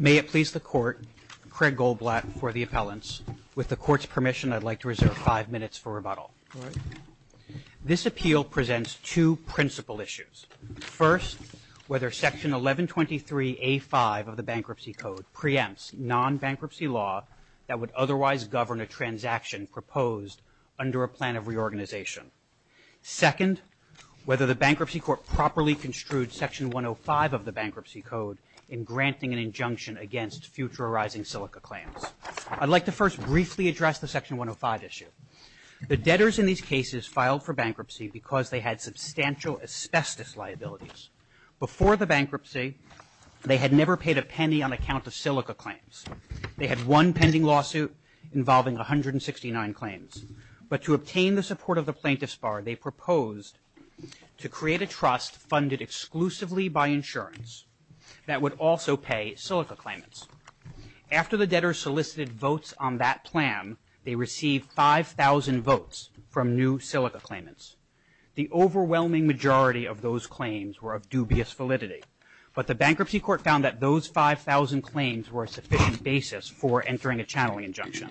May it please the Court, Craig Goldblatt for the appellants. With the Court's permission, I'd like to reserve five minutes for rebuttal. This appeal presents two principal issues. First, whether Section 1123 A5 of the would otherwise govern a transaction proposed under a plan of reorganization. Second, whether the Bankruptcy Court properly construed Section 105 of the Bankruptcy Code in granting an injunction against future arising silica claims. I'd like to first briefly address the Section 105 issue. The debtors in these cases filed for bankruptcy because they had substantial asbestos liabilities. Before the bankruptcy, they had never paid a penny on account of silica claims. They had one pending lawsuit involving 169 claims. But to obtain the support of the plaintiffs bar, they proposed to create a trust funded exclusively by insurance that would also pay silica claimants. After the debtors solicited votes on that plan, they received 5,000 votes from new silica claimants. The overwhelming majority of those claims were of dubious basis for entering a channeling injunction.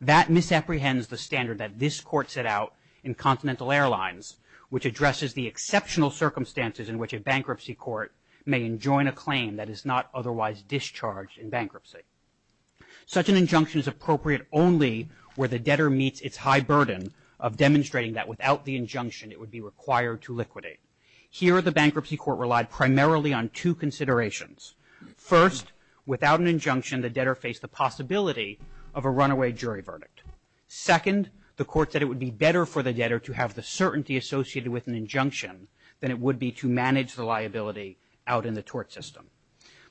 That misapprehends the standard that this Court set out in Continental Airlines, which addresses the exceptional circumstances in which a bankruptcy court may enjoin a claim that is not otherwise discharged in bankruptcy. Such an injunction is appropriate only where the debtor meets its high burden of demonstrating that without the injunction, it would be required to liquidate. Here, the without an injunction, the debtor faced the possibility of a runaway jury verdict. Second, the court said it would be better for the debtor to have the certainty associated with an injunction than it would be to manage the liability out in the tort system.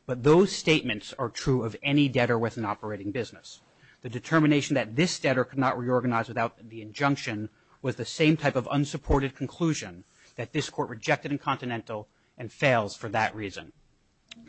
But those statements are true of any debtor with an operating business. The determination that this debtor could not reorganize without the injunction was the same type of unsupported conclusion that this court rejected in Continental and fails for that reason.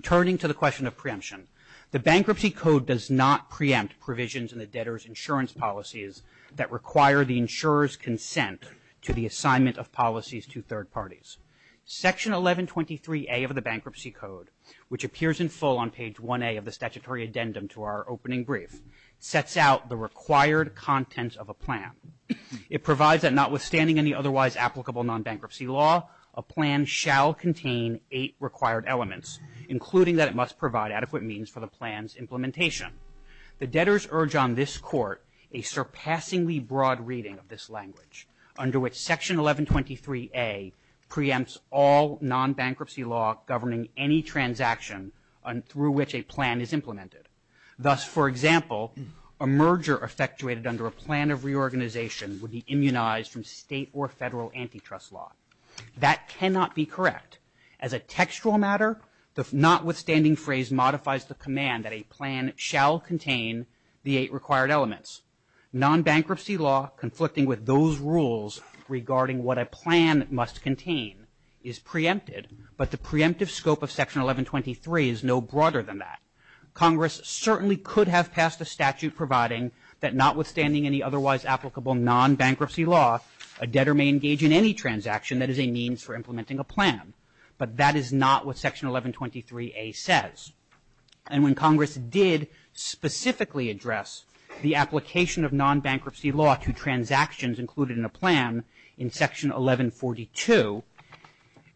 Turning to the question of preemption, the Bankruptcy Code does not preempt provisions in the debtor's insurance policies that require the insurer's consent to the assignment of policies to third parties. Section 1123A of the Bankruptcy Code, which appears in full on page 1A of the statutory addendum to our opening brief, sets out the required contents of a plan. It provides that notwithstanding any otherwise applicable non-bankruptcy law, a plan shall contain eight required elements, including that it must provide adequate means for the plan's implementation. The debtors urge on this court a surpassingly broad reading of this language, under which section 1123A preempts all non-bankruptcy law governing any transaction through which a plan is implemented. Thus, for example, a merger effectuated under a plan of reorganization would be immunized from state or federal antitrust law. That cannot be correct. As a textual matter, the notwithstanding phrase modifies the command that a plan shall contain the eight required elements. Non-bankruptcy law conflicting with those rules regarding what a plan must contain is preempted, but the preemptive scope of section 1123 is no broader than that. Congress certainly could have passed a statute providing that notwithstanding any otherwise applicable non-bankruptcy law, a debtor may engage in any transaction that is a means for implementing a plan, but that is not what section 1123A says. And when Congress did specifically address the application of non-bankruptcy law to transactions included in a plan in section 1142,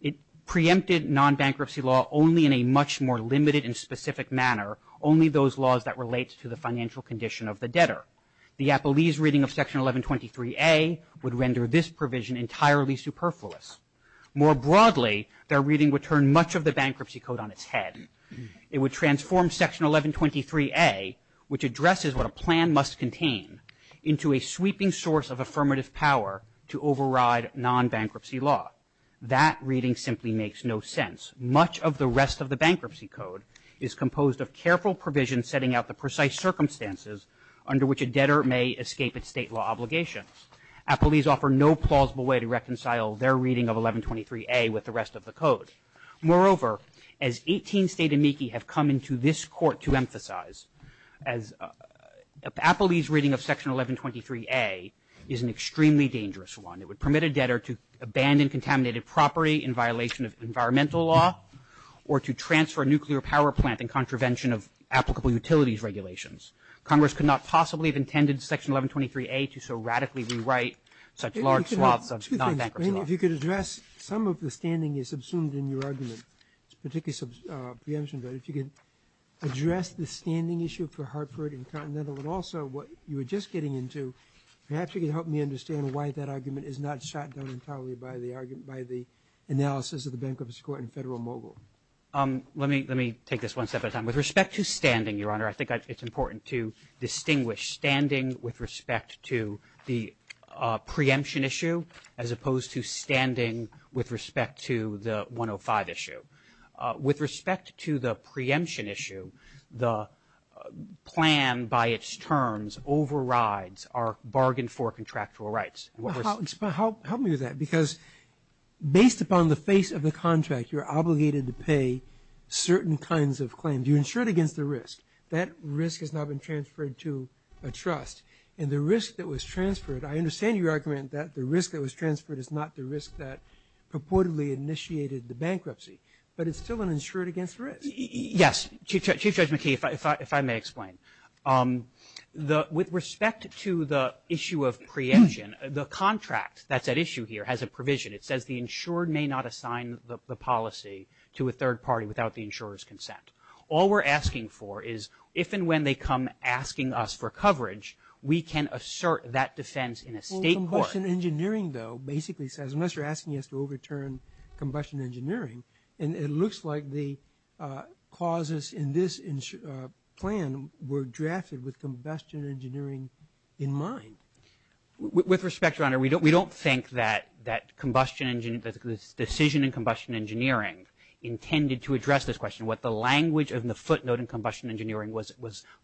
it preempted non-bankruptcy law only in a much more limited and specific manner, only those laws that relate to the financial condition of the debtor. The Appelese reading of section More broadly, their reading would turn much of the bankruptcy code on its head. It would transform section 1123A, which addresses what a plan must contain, into a sweeping source of affirmative power to override non-bankruptcy law. That reading simply makes no sense. Much of the rest of the bankruptcy code is composed of careful provisions setting out the precise circumstances under which a debtor may escape its state law obligations. Appelese offer no plausible way to with the rest of the code. Moreover, as 18 state amici have come into this court to emphasize, Appelese reading of section 1123A is an extremely dangerous one. It would permit a debtor to abandon contaminated property in violation of environmental law or to transfer a nuclear power plant in contravention of applicable utilities regulations. Congress could not possibly have intended section 1123A to so radically rewrite such large swaths of non-bankruptcy law. I mean, if you could address some of the standing is subsumed in your argument, particularly some preemption, but if you could address the standing issue for Hartford and Continental and also what you were just getting into, perhaps you can help me understand why that argument is not shot down entirely by the argument by the analysis of the Bankruptcy Court in Federal Mogul. Let me let me take this one step at a time. With respect to standing, Your Honor, I think it's important to distinguish standing with respect to the preemption issue as opposed to standing with respect to the 105 issue. With respect to the preemption issue, the plan by its terms overrides our bargain for contractual rights. Help me with that, because based upon the face of the contract, you're obligated to pay certain kinds of claim. Do you insure it against the risk? That risk has now been transferred to a trust, and the risk that was transferred, I understand your argument that the risk that was transferred is not the risk that purportedly initiated the bankruptcy, but it's still an insured against risk. Yes, Chief Judge McKee, if I may explain. With respect to the issue of preemption, the contract that's at issue here has a provision. It says the insured may not assign the policy to a third party without the insurer's consent. All we're asking for is if and when they come asking us for coverage, we can assert that defense in a state court. Combustion engineering, though, basically says unless you're asking us to overturn combustion engineering, and it looks like the causes in this plan were drafted with combustion engineering in mind. With respect, Your Honor, we don't think that that decision in combustion engineering intended to address this question. What the language of the footnote in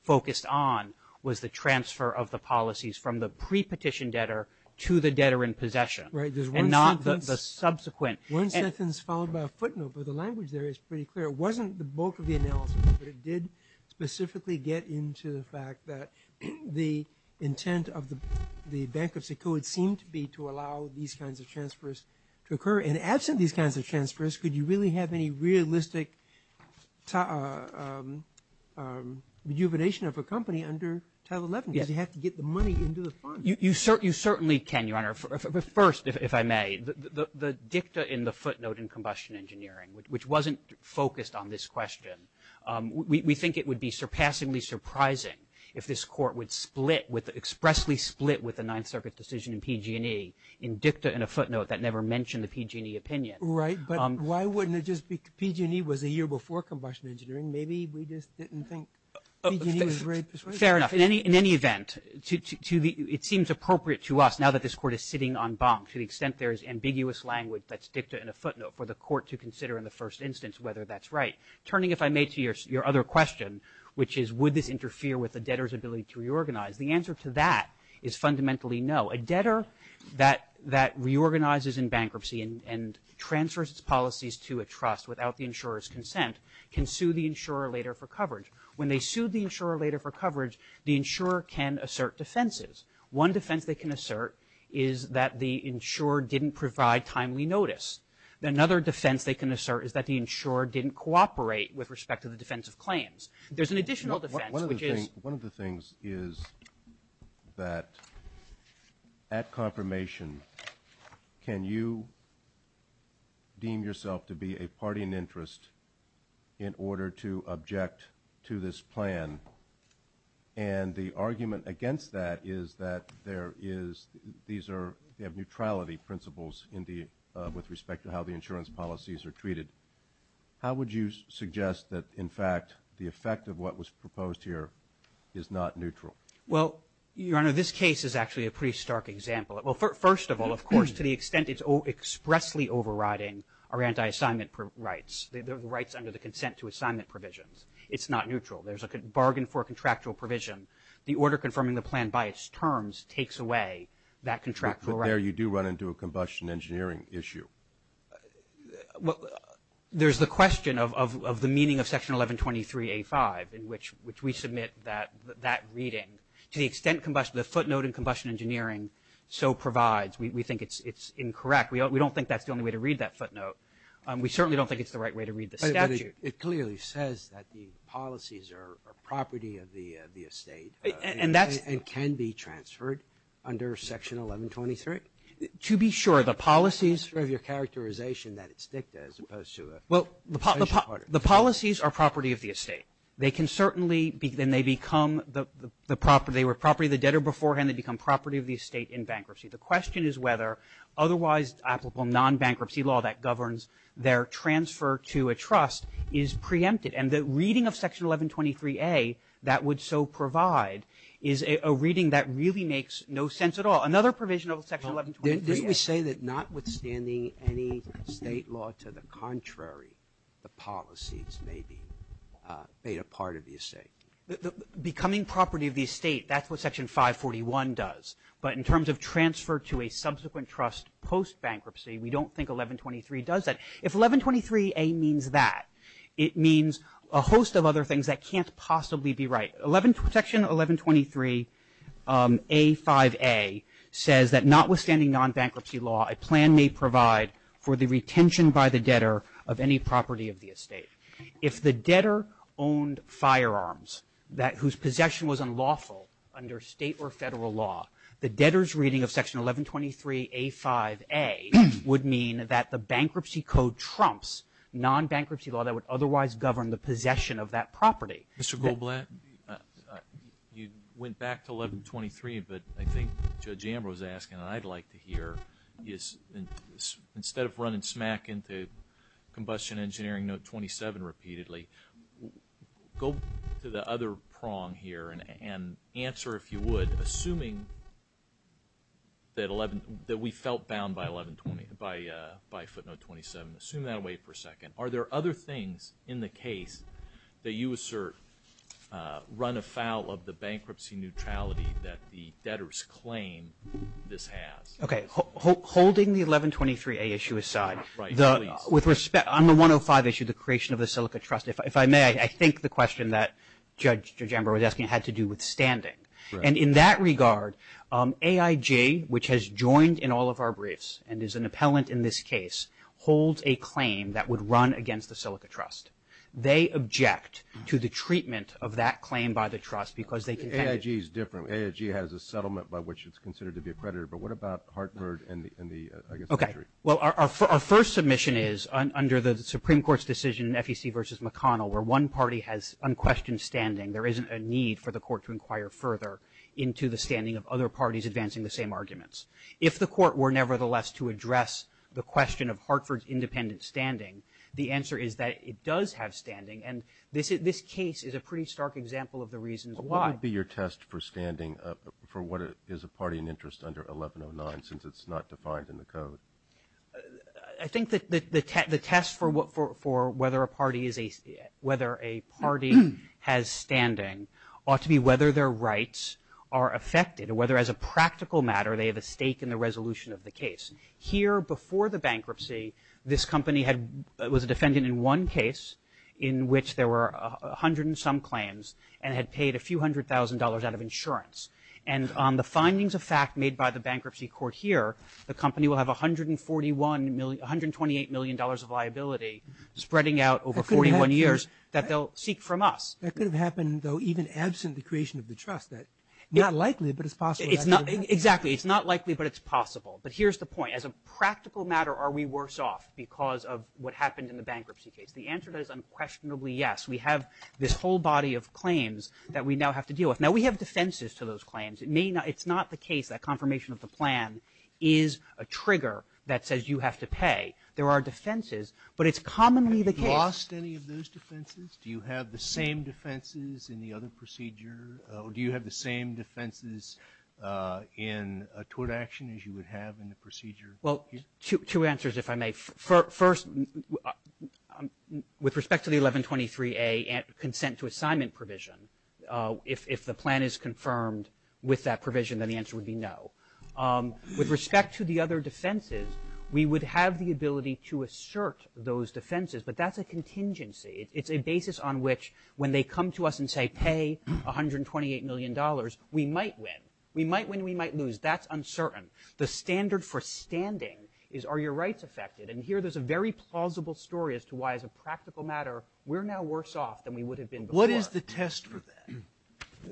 focused on was the transfer of the policies from the pre-petition debtor to the debtor in possession, and not the subsequent. One sentence followed by a footnote, but the language there is pretty clear. It wasn't the bulk of the analysis, but it did specifically get into the fact that the intent of the bankruptcy code seemed to be to allow these kinds of transfers to occur, and absent these kinds of transfers, could you really have any realistic rejuvenation of a company under Title 11? You have to get the money into the fund. You certainly can, Your Honor. But first, if I may, the dicta in the footnote in combustion engineering, which wasn't focused on this question, we think it would be surpassingly surprising if this court would split, expressly split, with the Ninth Circuit decision in PG&E in dicta in a footnote that never mentioned the PG&E opinion. Right, but why wouldn't it just be PG&E was a year before combustion engineering? Maybe we just didn't think PG&E was very persuasive. Fair enough. In any event, it seems appropriate to us, now that this court is sitting on bonk, to the extent there is ambiguous language that's dicta in a footnote for the court to consider in the first instance whether that's right. Turning, if I may, to your other question, which is would this interfere with the debtor's ability to reorganize? The answer to that is fundamentally no. A debtor that reorganizes in bankruptcy and transfers its policies to a trust without the insurer's consent can sue the insurer later for coverage. When they sue the insurer later for coverage, the insurer can assert defenses. One defense they can assert is that the insurer didn't provide timely notice. Another defense they can assert is that the insurer didn't cooperate with respect to the defense of claims. There's an additional defense, which is... One of the things is that, at confirmation, can you deem yourself to be a party in interest in order to object to this plan? And the argument against that is that there is these are, they have neutrality principles in the, with respect to how the insurance policies are treated. How would you suggest that, in fact, the not neutral? Well, Your Honor, this case is actually a pretty stark example. Well, first of all, of course, to the extent it's expressly overriding our anti-assignment rights, the rights under the consent to assignment provisions, it's not neutral. There's a bargain for contractual provision. The order confirming the plan by its terms takes away that contractual right. But there you do run into a combustion engineering issue. Well, there's the question of the meaning of that reading. To the extent combustion, the footnote in combustion engineering so provides, we think it's incorrect. We don't think that's the only way to read that footnote. We certainly don't think it's the right way to read the statute. It clearly says that the policies are property of the estate and can be transferred under Section 1123? To be sure, the policies... Sort of your characterization that it's dicta as opposed to a... Well, the policies are property of the debtor beforehand. They become property of the estate in bankruptcy. The question is whether otherwise applicable non-bankruptcy law that governs their transfer to a trust is preempted. And the reading of Section 1123A that would so provide is a reading that really makes no sense at all. Another provision of Section 1123A... Didn't we say that notwithstanding any state law to the property of the estate, that's what Section 541 does. But in terms of transfer to a subsequent trust post-bankruptcy, we don't think 1123 does that. If 1123A means that, it means a host of other things that can't possibly be right. Section 1123A5A says that notwithstanding non-bankruptcy law, a plan may provide for the retention by the debtor of any property of the was unlawful under state or federal law, the debtor's reading of Section 1123A5A would mean that the bankruptcy code trumps non-bankruptcy law that would otherwise govern the possession of that property. Mr. Goldblatt, you went back to 1123, but I think Judge Amber was asking, and I'd like to hear, is instead of running smack into Combustion Engineering Note 27 repeatedly, go to the other prong here and answer, if you would, assuming that we felt bound by footnote 27, assume that and wait for a second. Are there other things in the case that you assert run afoul of the bankruptcy neutrality that the debtors claim this has? Okay, holding the 1123A issue aside, with respect, on the 105 issue, the creation of the Silica Trust, if I may, I think the question that Judge Amber was asking had to do with standing. And in that regard, AIG, which has joined in all of our briefs and is an appellant in this case, holds a claim that would run against the Silica Trust. They object to the treatment of that claim by the trust because they can... AIG is different. AIG has a settlement by which it's considered to be a predator, but what about Hartford and the... Okay, well our first submission is under the Supreme Court's decision in FEC versus McConnell, where one party has unquestioned standing. There isn't a need for the court to inquire further into the standing of other parties advancing the same arguments. If the court were nevertheless to address the question of Hartford's independent standing, the answer is that it does have standing, and this case is a pretty stark example of the reasons why... What would be your test for standing for what is a party in interest under 1109, since it's not defined in the code? I think that the test for whether a party is whether a party has standing ought to be whether their rights are affected, or whether as a practical matter they have a stake in the resolution of the case. Here, before the bankruptcy, this company had... was a defendant in one case in which there were a hundred and some claims and had paid a few hundred thousand dollars out of insurance, and on the findings of fact made by the bankruptcy court here, the company will have a hundred and forty-one million... years that they'll seek from us. That could have happened, though, even absent the creation of the trust. That's not likely, but it's possible. It's not... Exactly. It's not likely, but it's possible. But here's the point. As a practical matter, are we worse off because of what happened in the bankruptcy case? The answer is unquestionably yes. We have this whole body of claims that we now have to deal with. Now, we have defenses to those claims. It may not... it's not the case that confirmation of the plan is a trigger that says you have to pay. There are defenses, but it's commonly the case... defenses. Do you have the same defenses in the other procedure? Do you have the same defenses in a tort action as you would have in the procedure? Well, two answers, if I may. First, with respect to the 1123A consent to assignment provision, if the plan is confirmed with that provision, then the answer would be no. With respect to the other defenses, we would have the ability to assert those contingencies. It's a basis on which, when they come to us and say, pay 128 million dollars, we might win. We might win, we might lose. That's uncertain. The standard for standing is, are your rights affected? And here, there's a very plausible story as to why, as a practical matter, we're now worse off than we would have been before. What is the test for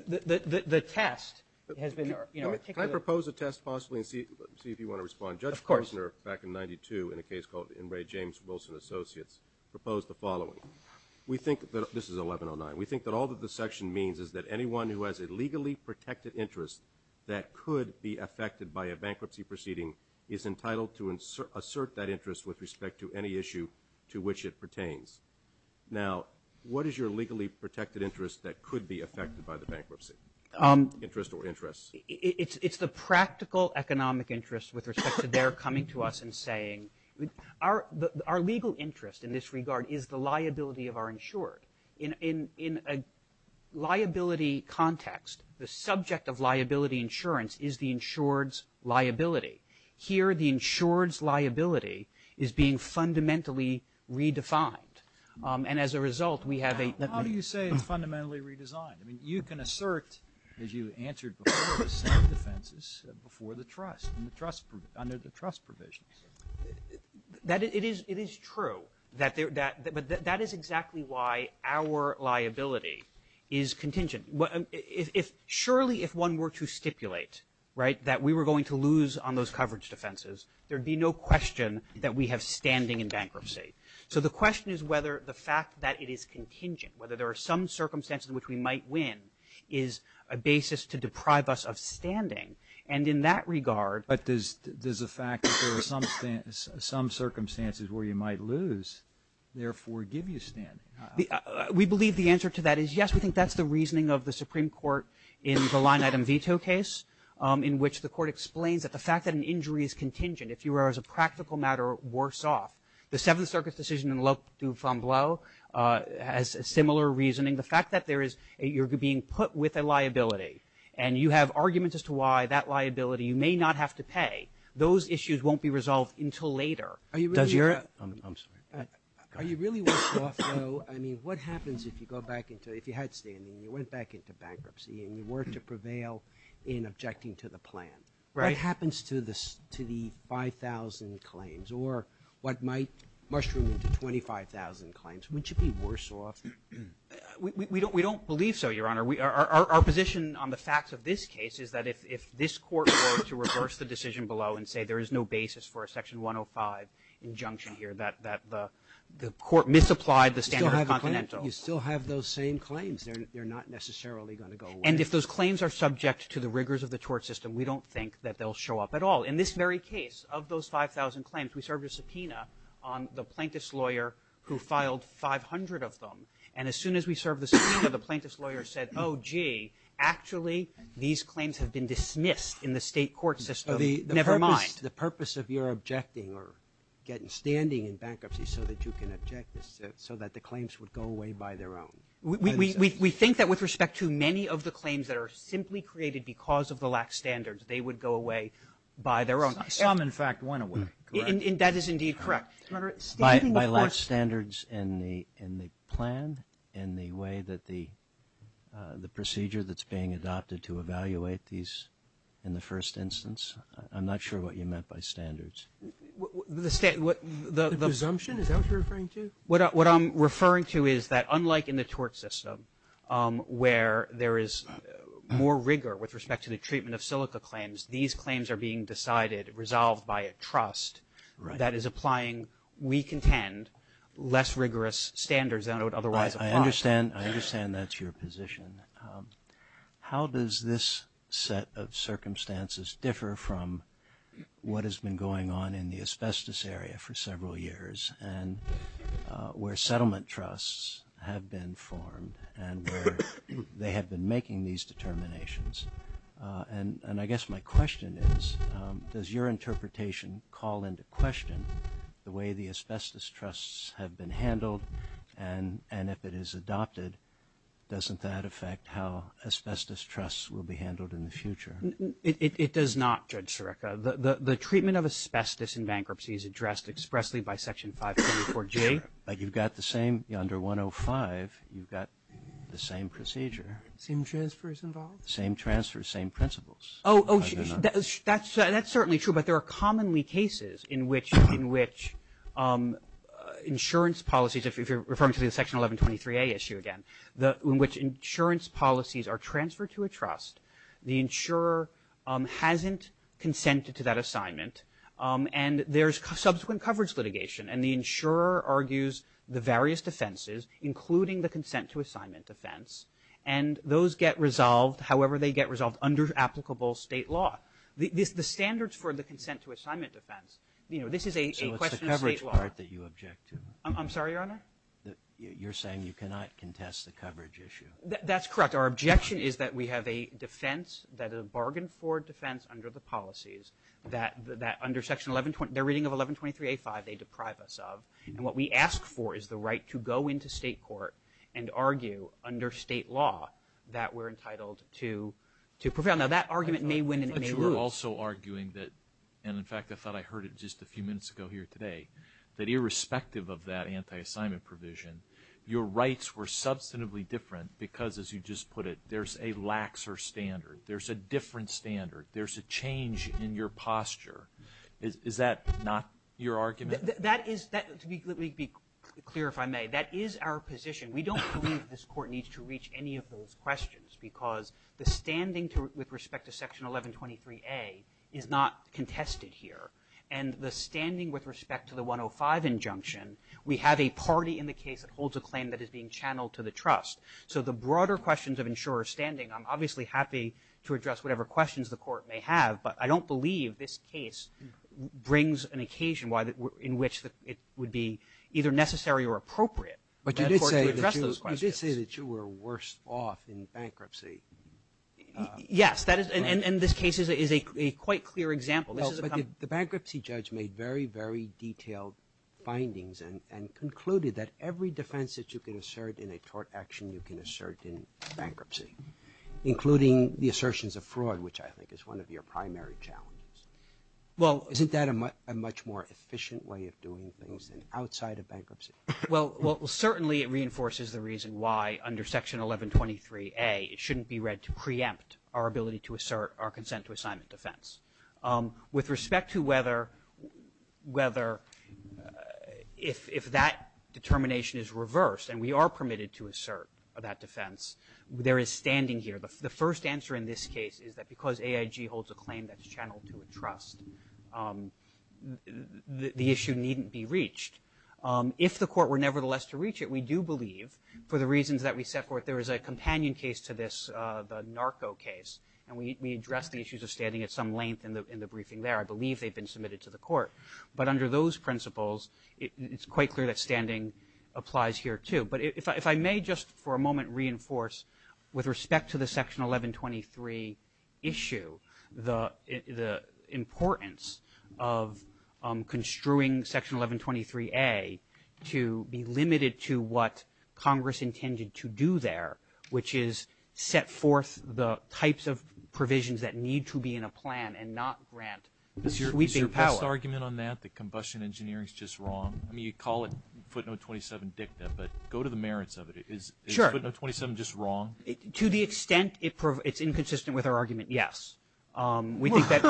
that? The test has been... Can I propose a test, possibly, and see if you want to respond? Of course. Judge Gersoner, back in 1992, in a case called, in Ray James Wilson Associates, proposed the following. We think that, this is 1109, we think that all that the section means is that anyone who has a legally protected interest that could be affected by a bankruptcy proceeding is entitled to assert that interest with respect to any issue to which it pertains. Now, what is your legally protected interest that could be affected by the bankruptcy? Interest or interests? It's the practical economic interest with respect to their coming to us and saying, our legal interest in this regard is the liability of our insured. In a liability context, the subject of liability insurance is the insured's liability. Here, the insured's liability is being fundamentally redefined, and as a result, we have a... How do you say it's fundamentally redesigned? I mean, you can lose your defenses before the trust, under the trust provisions. It is true, but that is exactly why our liability is contingent. Surely, if one were to stipulate, right, that we were going to lose on those coverage defenses, there'd be no question that we have standing in bankruptcy. So, the question is whether the fact that it is contingent, whether there are some circumstances in which we might win, is a basis to deprive us of standing, and in that regard... But does the fact that there are some circumstances where you might lose, therefore, give you standing? We believe the answer to that is yes. We think that's the reasoning of the Supreme Court in the line-item veto case, in which the court explains that the fact that an injury is contingent, if you are, as a practical matter, worse off. The Seventh Circuit's decision in Le Femme Bleue has a similar reasoning. The fact that you're being put with a liability, and you have arguments as to why that liability, you may not have to pay, those issues won't be resolved until later. Are you really worse off, though? I mean, what happens if you go back into, if you had standing, you went back into bankruptcy, and you were to prevail in objecting to the plan? What happens to the 5,000 claims, or what might mushroom into 25,000 claims? Wouldn't you be worse off? We don't believe so, Your Honor. Our position on the facts of this case is that if this Court were to reverse the decision below and say there is no basis for a Section 105 injunction here, that the Court misapplied the standard of the Continental. You still have those same claims. They're not necessarily going to go away. And if those claims are subject to the rigors of the tort system, we don't think that they'll show up at all. In this very case, of those 5,000 claims, we served a subpoena on the plaintiff's lawyer who filed 500 of them. And as soon as we served the subpoena, the plaintiff's lawyer said, oh gee, actually these claims have been dismissed in the state court system, never mind. The purpose of your objecting, or getting standing in bankruptcy, so that you can object this, so that the claims would go away by their own. We think that with respect to many of the claims that are simply created because of the lax standards, they would go away by their own. Some, in fact, went away. And that is indeed correct. By lax standards in the plan, in the way that the procedure that's being adopted to evaluate these in the first instance? I'm not sure what you meant by standards. The presumption? Is that what you're referring to? What I'm referring to is that unlike in the tort system, where there is more rigor with respect to the treatment of silica claims, these claims are being decided, resolved by a trust that is applying, we contend, less rigorous standards than it would otherwise apply. I understand, I understand that's your position. How does this set of circumstances differ from what has been going on in the asbestos area for several years, and where settlement trusts have been formed, and where they have been making these determinations? And I guess my question is, does your interpretation call into question the way the asbestos trusts have been handled, and if it is adopted, doesn't that affect how asbestos trusts will be handled in the future? It does not, Judge Sarekha. The treatment of asbestos in bankruptcy is addressed expressly by Section 534J. But you've got the same, under 105, you've got the same procedure. Same transfers involved? Same transfers, same principles. Oh, that's certainly true, but there are commonly cases in which insurance policies, if you're referring to the Section 1123A issue again, in which insurance policies are transferred to a trust, the insurer hasn't consented to that assignment, and there's subsequent coverage litigation, and the insurer argues the various defenses, including the consent to assignment defense, and those get resolved, however they get resolved, under applicable state law. The standards for the consent to assignment defense, this is a question of state law. So it's the coverage part that you object to? I'm sorry, Your Honor? You're saying you cannot contest the coverage issue? That's correct. Our objection is that we have a defense that is a bargain for defense under the policies, that under Section 1123, their reading of 1123A5, they deprive us of, and what we ask for is the right to go into state court and argue under state law that we're entitled to prevail. Now, that argument may win and it may lose. I thought you were also arguing that, and in fact I thought I heard it just a few minutes ago here today, that irrespective of that anti-assignment provision, your rights were substantively different because, as you just put it, there's a laxer standard, there's a different standard, there's a change in your posture. Is that not your argument? That is, to be clear if I may, that is our position. We don't believe this court needs to reach any of those questions because the standing with respect to Section 1123A is not contested here, and the standing with respect to the 105 injunction, we have a party in the case that holds a claim that is being channeled to the trust. So the broader questions of insurer standing, I'm obviously happy to address whatever questions the court may have, but I don't believe this case brings an occasion in which it would be either necessary or appropriate for the court to address those questions. But you did say that you were worse off in bankruptcy. Yes, and this case is a quite clear example. Well, but the bankruptcy judge made very, very detailed findings and concluded that every defense that you can assert in a tort action, you can assert in bankruptcy, including the assertions of fraud, which I think is one of your primary challenges. Well, isn't that a much more efficient way of doing things than outside of bankruptcy? Well, certainly it reinforces the reason why under Section 1123A, it shouldn't be read to preempt our ability to assert our consent to assignment defense. With respect to whether if that determination is reversed and we are permitted to assert that defense, there is standing here. The first answer in this case is that because AIG holds a claim that's channeled to a trust, the issue needn't be reached. If the court were nevertheless to reach it, we do believe, for the reasons that we set forth, there is a companion case to this, the Narco case, and we addressed the issues of standing at some length in the briefing there. I believe they've been submitted to the court. But under those principles, it's quite clear that standing applies here too. If I may just for a moment reinforce, with respect to the Section 1123 issue, the importance of construing Section 1123A to be limited to what Congress intended to do there, which is set forth the types of provisions that need to be in a plan and not grant sweeping power. Is your best argument on that, that combustion engineering is just wrong? You call it footnote 27 dicta, but go to the merits of it. Is footnote 27 just wrong? To the extent it's inconsistent with our argument, yes. We don't think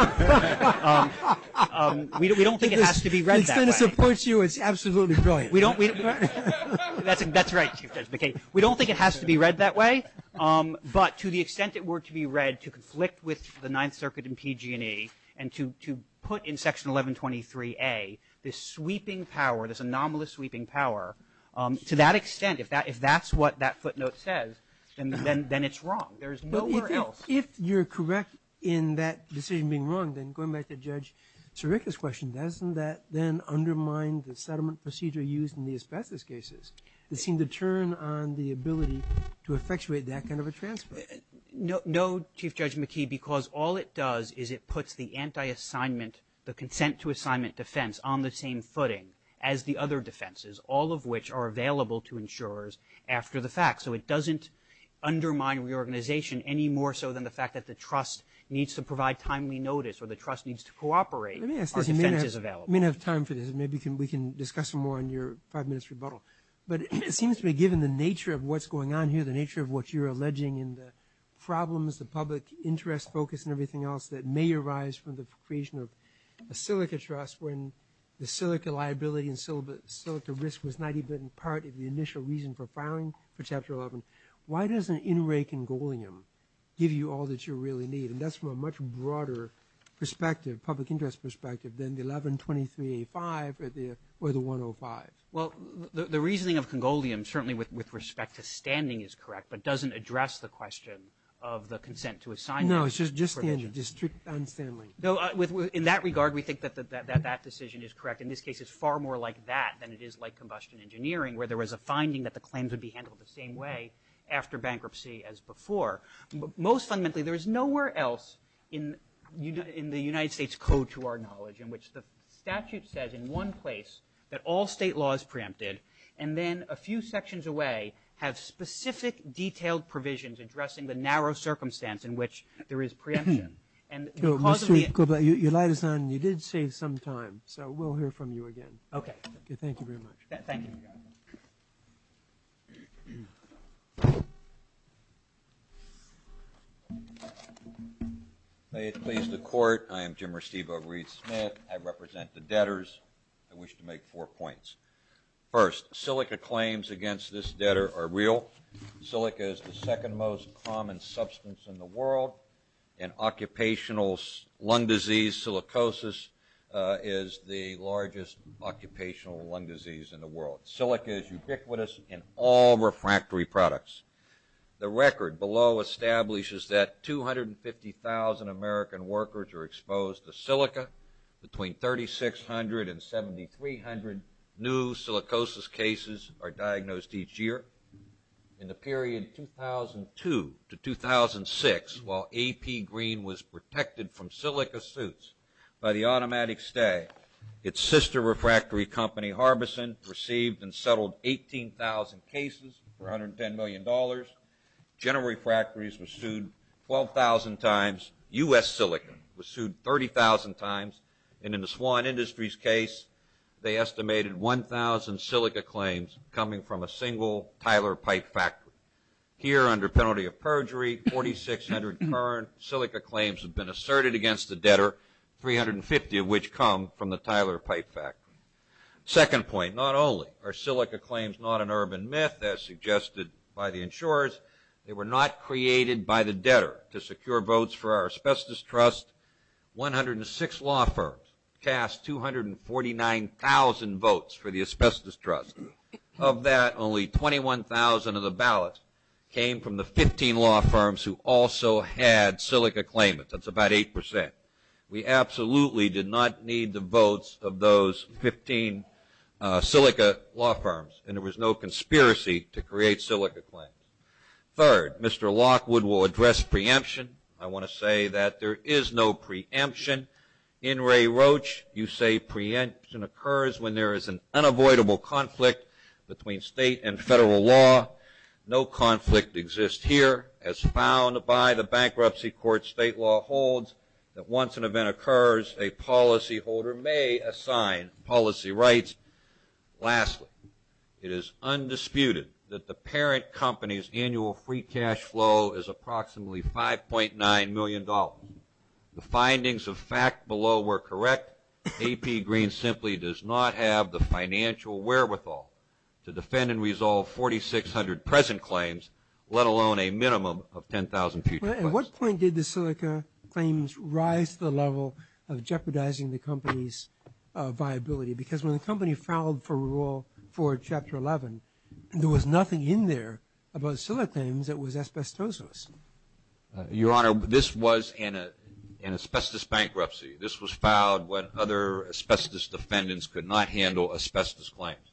it has to be read that way. To the extent it supports you, it's absolutely brilliant. That's right. We don't think it has to be read that way. But to the extent it were to be read to conflict with the Ninth Circuit and PG&E, and to put in Section 1123A this sweeping power, this anomalous sweeping power, to that extent, if that's what that footnote says, then it's wrong. There's nowhere else. If you're correct in that decision being wrong, then going back to Judge Sirica's question, doesn't that then undermine the settlement procedure used in the asbestos cases? It seemed to turn on the ability to effectuate that kind of a transfer. No, Chief Judge McKee, because all it does is it puts the anti-assignment, the consent to assignment defense on the same footing as the other defenses, all of which are available to insurers after the fact. So it doesn't undermine reorganization any more so than the fact that the trust needs to provide timely notice or the trust needs to cooperate. Let me ask this. You may not have time for this. Maybe we can discuss some more in your five minutes rebuttal. But it seems to me, given the nature of what's going on here, the nature of what you're alleging in the problems, the public interest focus and everything else that may arise from the creation of a Silica trust when the Silica liability and Silica risk was not even part of the initial reason for filing for Chapter 11, why doesn't an in-ray congoleum give you all that you really need? And that's from a much broader perspective, public interest perspective, than the 1123A5 or the 105. Well, the reasoning of congoleum, certainly with respect to standing, is correct, but doesn't address the question of the consent to assignment. No, it's just the district on standing. In that regard, we think that that decision is correct. In this case, it's far more like that than it is like combustion engineering, where there was a finding that the claims would be handled the same way after bankruptcy as before. But most fundamentally, there is nowhere else in the United States code to our knowledge in which the statute says in one place that all state law is preempted, and then a few sections away have specific detailed provisions addressing the narrow circumstance in which there is preemption. And because of the – Mr. Kublai, your light is on. You did save some time, so we'll hear from you again. Okay. Thank you very much. Thank you. May it please the Court, I am Jim Restivo Reed Smith. I represent the debtors. I wish to highlight that in the 21st century, silica is the second most common substance in the world, and Occupational Lung Disease, silicosis is the largest occupational lung disease in the world. Silica is ubiquitous in all refractory products. The record below establishes that 250,000 American workers are exposed to silica. Between 3,600 and 7,300 new silicosis cases are diagnosed each year. In the period 2002 to 2006, while AP Green was protected from silica suits by the automatic stay, its sister refractory company, Harbison, received and settled 18,000 cases for $110 million. General Refractories was sued 12,000 times. U.S. Silica was sued 30,000 times. And in the Swan Industries case, they estimated 1,000 silica claims coming from a single Tyler Pipe factory. Here, under penalty of perjury, 4,600 current silica claims have been asserted against the debtor, 350 of which come from the Tyler Pipe factory. Second point, not only are silica claims not an urban myth, as suggested by the insurers, they were not created by the debtor. To secure votes for our Asbestos Trust, 106 law firms cast 249,000 votes for the Asbestos Trust. Of that, only 21,000 of the ballots came from the 15 law firms who also had silica claimants. That's about 8%. We absolutely did not need the votes of those 15 silica law firms and there was no conspiracy to create silica claims. Third, Mr. Lockwood will address preemption. I want to say that there is no preemption. In Ray Roach, you say preemption occurs when there is an unavoidable conflict between state and federal law. No conflict exists here, as found by the Bankruptcy Court state law holds that once an event occurs, a policyholder may assign policy rights. Lastly, it is undisputed that the parent company's annual free cash flow is approximately $5.9 million. The findings of fact below were correct. AP Green simply does not have the financial wherewithal to defend and resolve 4,600 present claims, let alone a minimum of 10,000 future claims. At what point did the silica claims rise to the level of jeopardizing the company's viability? Because when the company filed for rule for Chapter 11, there was nothing in there about silica claims that was asbestos-less. Your Honor, this was an asbestos bankruptcy. This was filed when other asbestos defendants could not handle asbestos claims.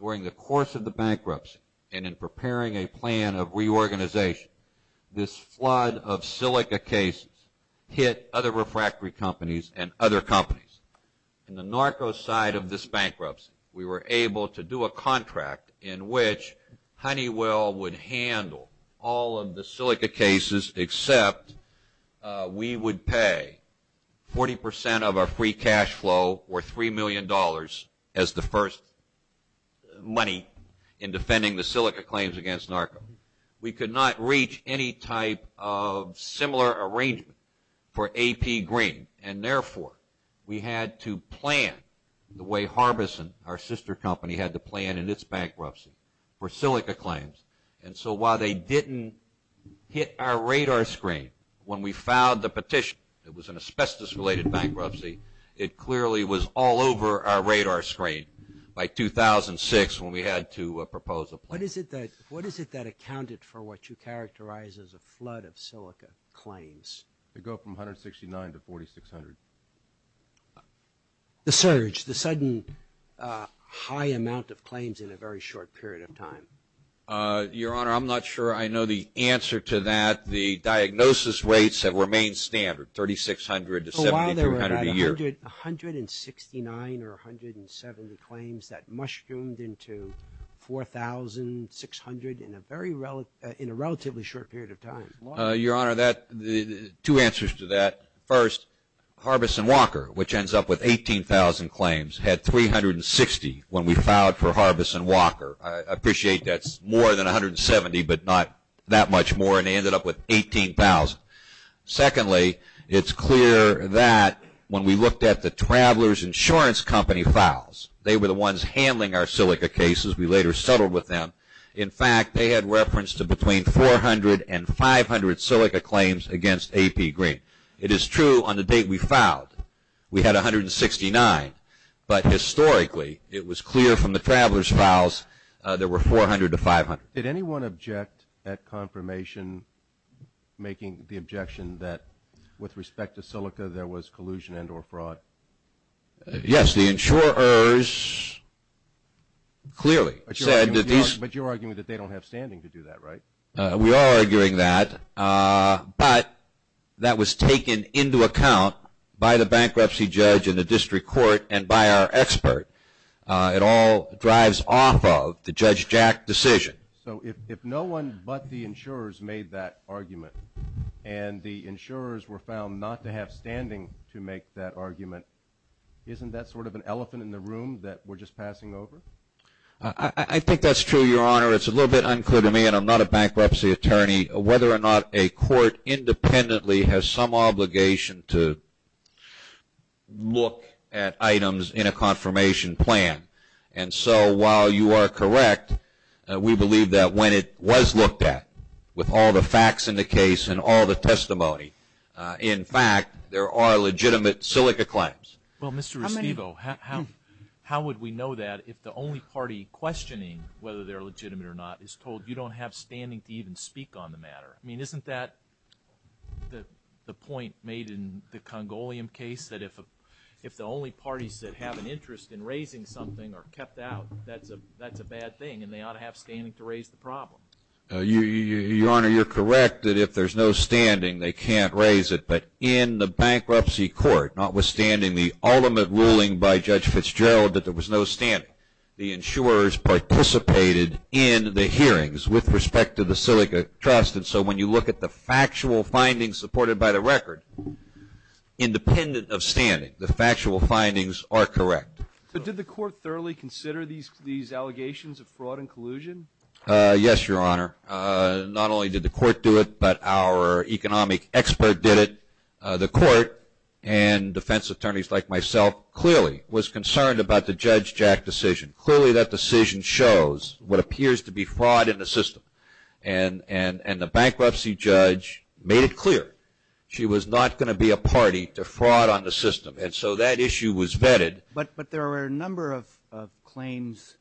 During the course of the bankruptcy and in preparing a plan of reorganization, this flood of silica cases hit other refractory companies and other companies. In the narco side of this bankruptcy, we were able to do a contract in which Honeywell would handle all of the silica cases except we would pay 40% of our free cash flow or $3 million as the first money in defending the silica claims against narco. We could not reach any type of similar arrangement for AP Green, and therefore, we had to plan the way Harbison, our sister company, had to plan in its bankruptcy for silica claims. And so while they didn't hit our radar screen, when we filed the petition, it was an asbestos-related bankruptcy, it clearly was all over our radar screen by 2006 when we had to propose a plan. What is it that accounted for what you characterize as a flood of silica claims? It would go from 169 to 4,600. The surge, the sudden high amount of claims in a very short period of time? Your Honor, I'm not sure I know the answer to that. The diagnosis rates have remained standard, 3,600 to 7,200 a year. So while there were about 169 or 170 claims that mushroomed into 4,600 in a relatively short period of time. Your Honor, two answers to that. First, Harbison-Walker, which ends up with 18,000 claims, had 360 when we filed for Harbison-Walker. I appreciate that's more than 170, but not that much more, and they ended up with 18,000. Secondly, it's clear that when we looked at the Travelers Insurance Company files, they were the ones handling our silica cases. We had 169 and 500 silica claims against AP Green. It is true on the date we filed, we had 169, but historically it was clear from the Travelers files there were 400 to 500. Did anyone object at confirmation making the objection that with respect to silica there was collusion and or fraud? Yes, the insurers clearly said that these... But you're arguing that they don't have standing to do that, right? We are arguing that, but that was taken into account by the bankruptcy judge and the district court and by our expert. It all drives off of the Judge Jack decision. So if no one but the insurers made that argument and the insurers were found not to have standing to make that argument, isn't that sort of an elephant in the room? It's a little bit unclear to me, and I'm not a bankruptcy attorney, whether or not a court independently has some obligation to look at items in a confirmation plan. And so while you are correct, we believe that when it was looked at with all the facts in the case and all the testimony, in fact, there are legitimate silica claims. Well, Mr. Restivo, how would we know that if the only party questioning whether they're legitimate or not is told you don't have standing to even speak on the matter? I mean, isn't that the point made in the Congolium case, that if the only parties that have an interest in raising something are kept out, that's a bad thing, and they ought to have standing to raise the problem? Your Honor, you're correct that if there's no standing, they can't raise it. But in the hearing by Judge Fitzgerald, that there was no standing. The insurers participated in the hearings with respect to the silica trust, and so when you look at the factual findings supported by the record, independent of standing, the factual findings are correct. So did the court thoroughly consider these allegations of fraud and collusion? Yes, Your Honor. Not only did the court do it, but our economic expert did it, the court, and defense attorneys like myself clearly was concerned about the Judge Jack decision. Clearly that decision shows what appears to be fraud in the system, and the bankruptcy judge made it clear she was not going to be a party to fraud on the system, and so that issue was vetted. But there were a number of claims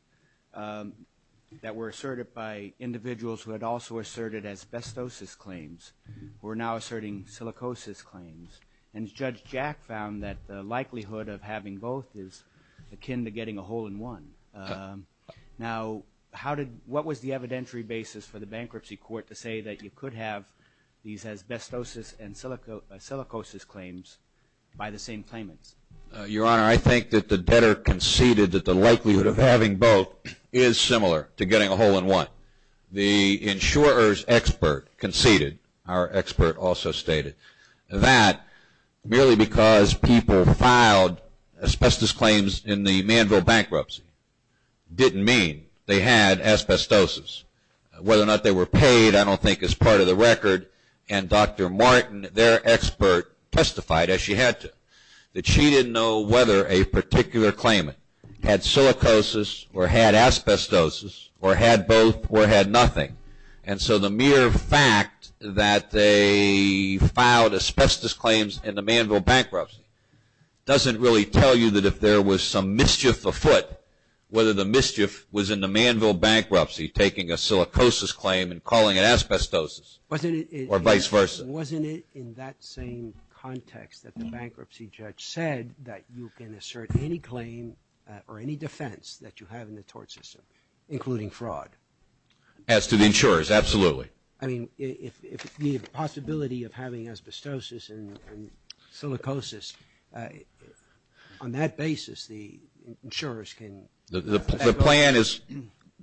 that were asserted by individuals who had also asserted asbestosis claims, who are now asserting silicosis claims, and Judge Jack found that the likelihood of having both is akin to getting a hole in one. Now, what was the evidentiary basis for the bankruptcy court to say that you could have these asbestosis and silicosis claims by the same claimants? Your Honor, I think that the debtor conceded that the likelihood of having both is similar to getting a hole in one. The insurer's expert conceded, our expert also stated, that merely because people filed asbestos claims in the Manville bankruptcy didn't mean they had asbestosis. Whether or not they were paid, I don't think is part of the record, and Dr. Martin, their expert, testified, as she had to, that she didn't know whether a particular claimant had silicosis or had asbestosis or had both or had nothing. And so the mere fact that they filed asbestos claims in the Manville bankruptcy doesn't really tell you that if there was some mischief afoot, whether the mischief was in the Manville bankruptcy taking a silicosis claim and calling it asbestosis or vice versa. Wasn't it in that same context that the bankruptcy judge said that you can assert any claim or any defense that you have in the tort system, including fraud? As to the insurers, absolutely. I mean, if the possibility of having asbestosis and silicosis, on that basis, the insurers can have both? The plan is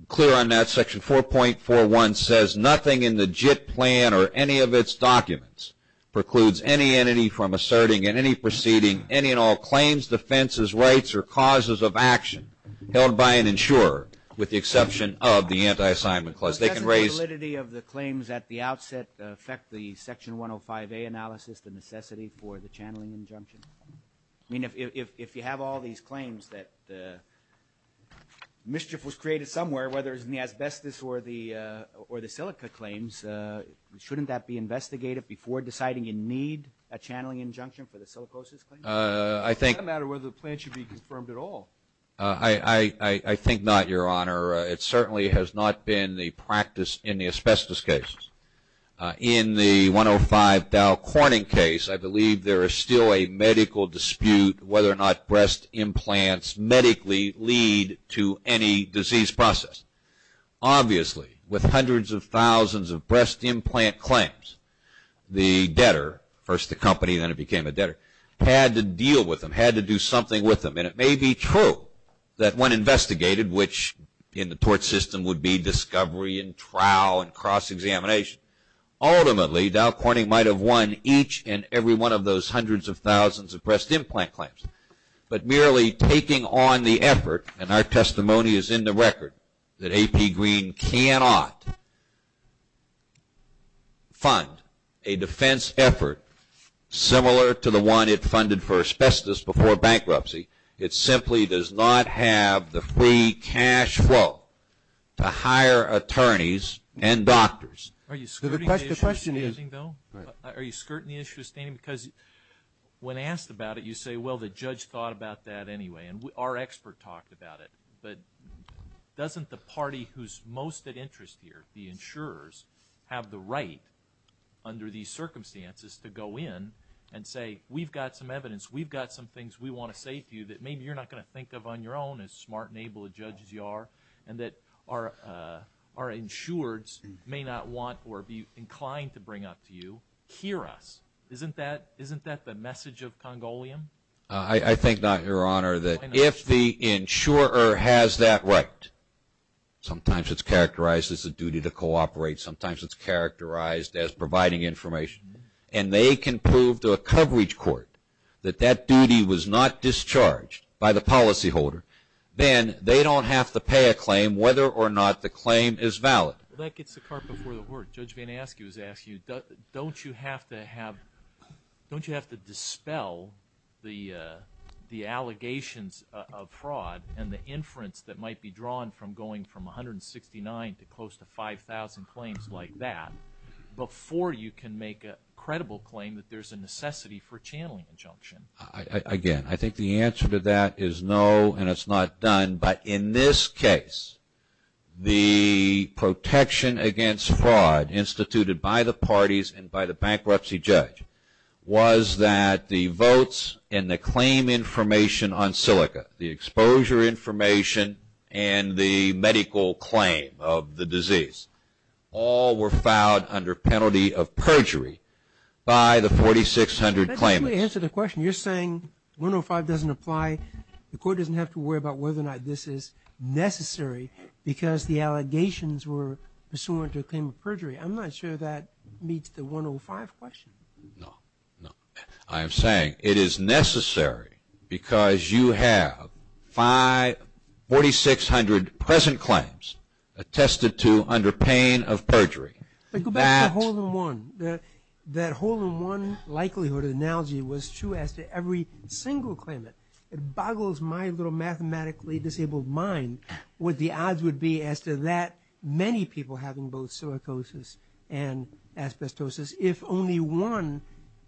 clear on that. Section 4.41 says, nothing in the JIT plan or any of its documents precludes any entity from asserting in any proceeding any and all claims, defenses, rights, or causes of action held by an insurer with the exception of the anti-assignment clause. Doesn't the validity of the claims at the outset affect the Section 105A analysis, the mischief was created somewhere, whether it's in the asbestos or the silica claims, shouldn't that be investigated before deciding you need a channeling injunction for the silicosis claim? It doesn't matter whether the plan should be confirmed at all. I think not, Your Honor. It certainly has not been the practice in the asbestos case. In the 105 Dow Corning case, I believe there is still a medical dispute whether or not breast implants medically lead to any disease process. Obviously, with hundreds of thousands of breast implant claims, the debtor, first the company then it became a debtor, had to deal with them, had to do something with them. It may be true that when investigated, which in the tort system would be discovery and trial and cross-examination, ultimately Dow Corning might have won each and every one of those hundreds of thousands of breast implant claims. But merely taking on the effort, and our testimony is in the record, that AP Green cannot fund a defense effort similar to the one it funded for asbestos before bankruptcy. It simply does not have the free cash flow to hire attorneys and doctors. Are you skirting the issue of standing, because when asked about it, you say, well, the judge thought about that anyway, and our expert talked about it, but doesn't the party who is most at interest here, the insurers, have the right under these circumstances to go in and say, we've got some evidence, we've got some things we want to say to you that maybe you're not going to think of on your own as smart and able to judge as you are, and that our insurers may not want or be inclined to bring up to you, hear us. Isn't that the message of Congolium? I think not, Your Honor, that if the insurer has that right, sometimes it's characterized as a duty to cooperate, sometimes it's characterized as providing information, and they can prove to a coverage court that that duty was not discharged by the policyholder, then they don't have to pay a claim whether or not the claim is valid. Well, that gets the cart before the horse. Judge Van Askew has asked you, don't you have to have, don't you have to dispel the allegations of fraud and the inference that might be drawn from going from 169 to close to 5,000 claims like that before you can make a credible claim that there's a necessity for channeling injunction? Again, I think the answer to that is no, and it's not done, but in this case, the protection against fraud instituted by the parties and by the bankruptcy judge was that the votes and the claim information on silica, the exposure information and the medical claim of the disease all were filed under penalty of perjury by the 4,600 claimants. When you answer the question, you're saying 105 doesn't apply, the court doesn't have to worry about whether or not this is necessary because the allegations were pursuant to a claim of perjury. I'm not sure that meets the 105 question. No. No. I am saying it is necessary because you have 4,600 present claims attested to under pain of perjury. But go back to hole in one. That hole in one likelihood analogy was true as to every single claimant. It boggles my little mathematically disabled mind what the odds would be as to that many people having both silicosis and asbestosis. If only one,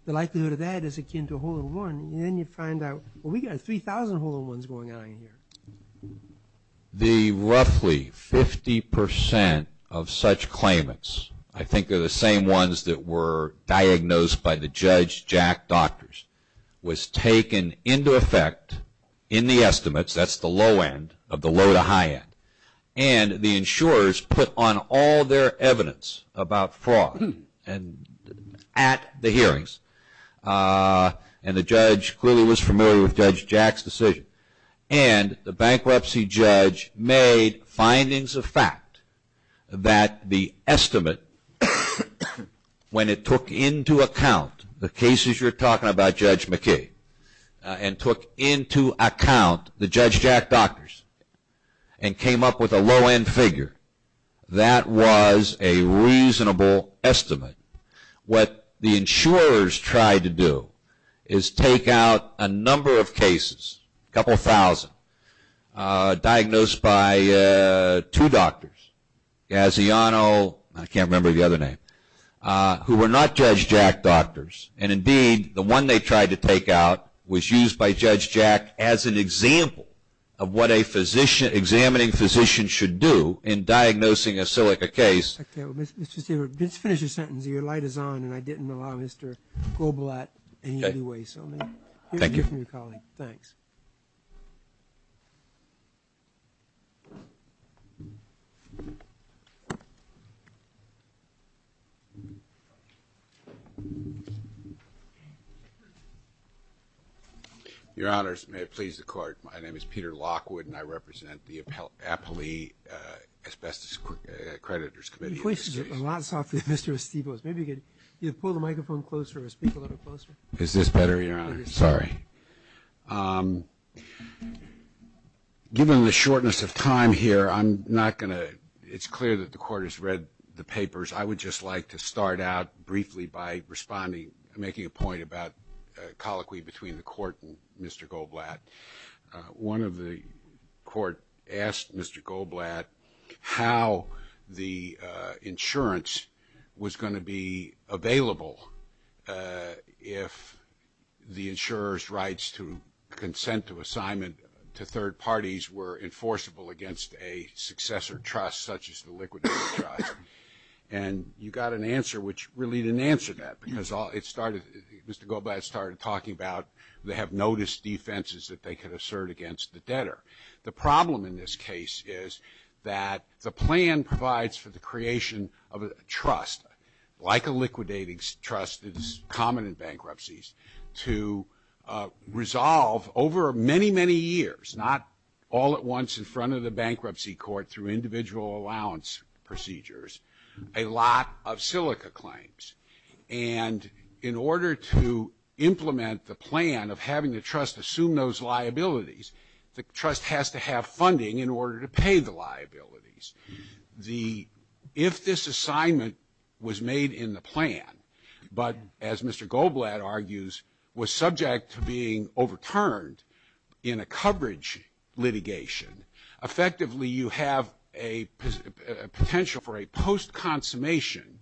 the likelihood of that is akin to hole in one, and then you find out, well, we got 3,000 hole in ones going on in here. The roughly 50% of such claimants, I think they're the same ones that were diagnosed by the Judge Jack Doctors, was taken into effect in the estimates, that's the low end of the low to high end, and the insurers put on all their evidence about fraud at the hearings, and the judge clearly was familiar with Judge Jack's decision, and the bankruptcy judge made findings of fact that the estimate, when it took into account the cases you're talking about, Judge McKay, and took into account the Judge Jack Doctors, and came up with a low end figure, that was a reasonable estimate. What the insurers tried to do is take out a number of cases, a couple thousand, diagnosed by two doctors, Gaziano, I can't remember the other name, who were not Judge Jack Doctors, and indeed the one they tried to take out was used by Judge Jack as an example of what a examining physician should do in diagnosing a silica case. Mr. Stewart, let's finish your sentence, your light is on, and I didn't allow Mr. Groblat any leeway, so let me hear from your colleague, thanks. Your honors, may it please the court, my name is Peter Lockwood, and I represent the Apolli Asbestos Accreditors Committee. Your voice is a lot softer than Mr. Estivo's, maybe you could either pull the microphone closer or speak a little closer. Is this better, your honor? Sorry. Given the shortness of time here, I'm not going to, it's clear that the court has read the papers, I would just like to start out briefly by responding, making a point about a colloquy between the court and Mr. Groblat. One of the court asked Mr. Groblat how the insurance was going to be available if the insurer's rights to consent to assignment to third parties were enforceable against a successor trust such as the Liquidator Trust, and you got an answer which really didn't answer that, because it started, Mr. Groblat started talking about they have noticed defenses that they could assert against the debtor. The problem in this case is that the plan provides for the creation of a trust, like a Liquidator Trust is common in bankruptcies, to resolve over many, many years, not all at once in front of the bankruptcy court through individual allowance procedures, a lot of The trust has to have funding in order to pay the liabilities. If this assignment was made in the plan, but as Mr. Groblat argues, was subject to being overturned in a coverage litigation, effectively you have a potential for a post-consummation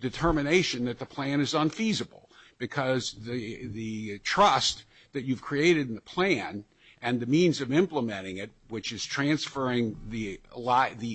determination that the plan is unfeasible, because the trust that you've created in the plan and the means of implementing it, which is transferring the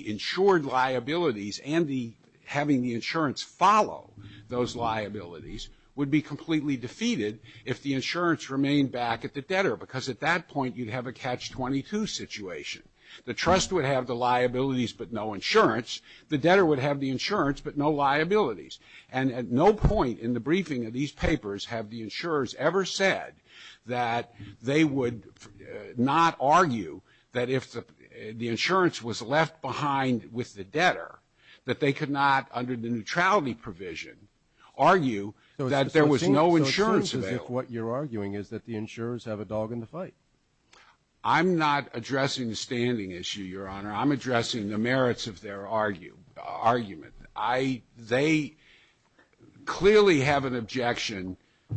insured liabilities and having the insurance follow those liabilities, would be completely defeated if the insurance remained back at the debtor, because at that point you'd have a catch-22 situation. The trust would have the liabilities, but no insurance. The debtor would have the insurance, but no liabilities. And at no point in the briefing of these papers have the insurers ever said that they would not argue that if the insurance was left behind with the debtor, that they could not, under the neutrality provision, argue that there was no insurance available. What you're arguing is that the insurers have a dog in the fight. I'm not addressing the standing issue, Your Honor. I'm addressing the merits of their argument. They clearly have an objection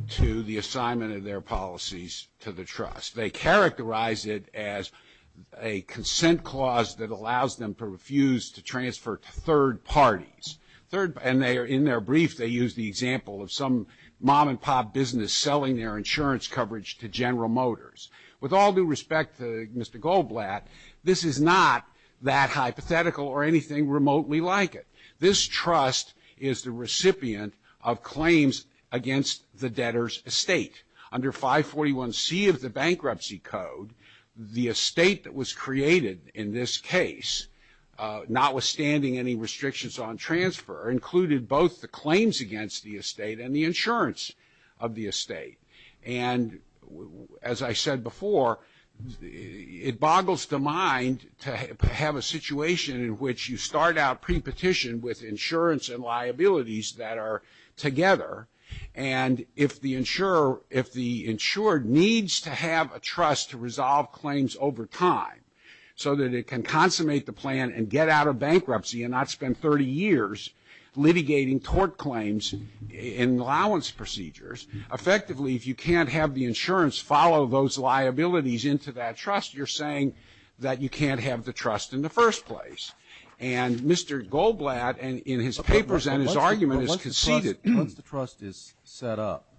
to the assignment of their policies to the trust. They characterize it as a consent clause that allows them to refuse to transfer to third parties. And in their brief, they use the example of some mom-and-pop business selling their insurance coverage to General Motors. With all due respect to Mr. Goldblatt, this is not that hypothetical or anything remotely like it. This trust is the recipient of claims against the debtor's estate. Under 541C of the Bankruptcy Code, the estate that was created in this case, notwithstanding any restrictions on transfer, included both the claims against the estate and the insurance of the estate. And as I said before, it boggles the mind to have a situation in which you start out pre-petition with insurance and liabilities that are together. And if the insurer, if the insured needs to have a trust to resolve claims over time, so that it can consummate the plan and get out of bankruptcy and not spend 30 years litigating tort claims in allowance procedures, effectively, if you can't have the insurance follow those liabilities into that trust, you're saying that you can't have the trust in the first place. And Mr. Goldblatt, in his papers and his argument, has conceded that once the trust is set up,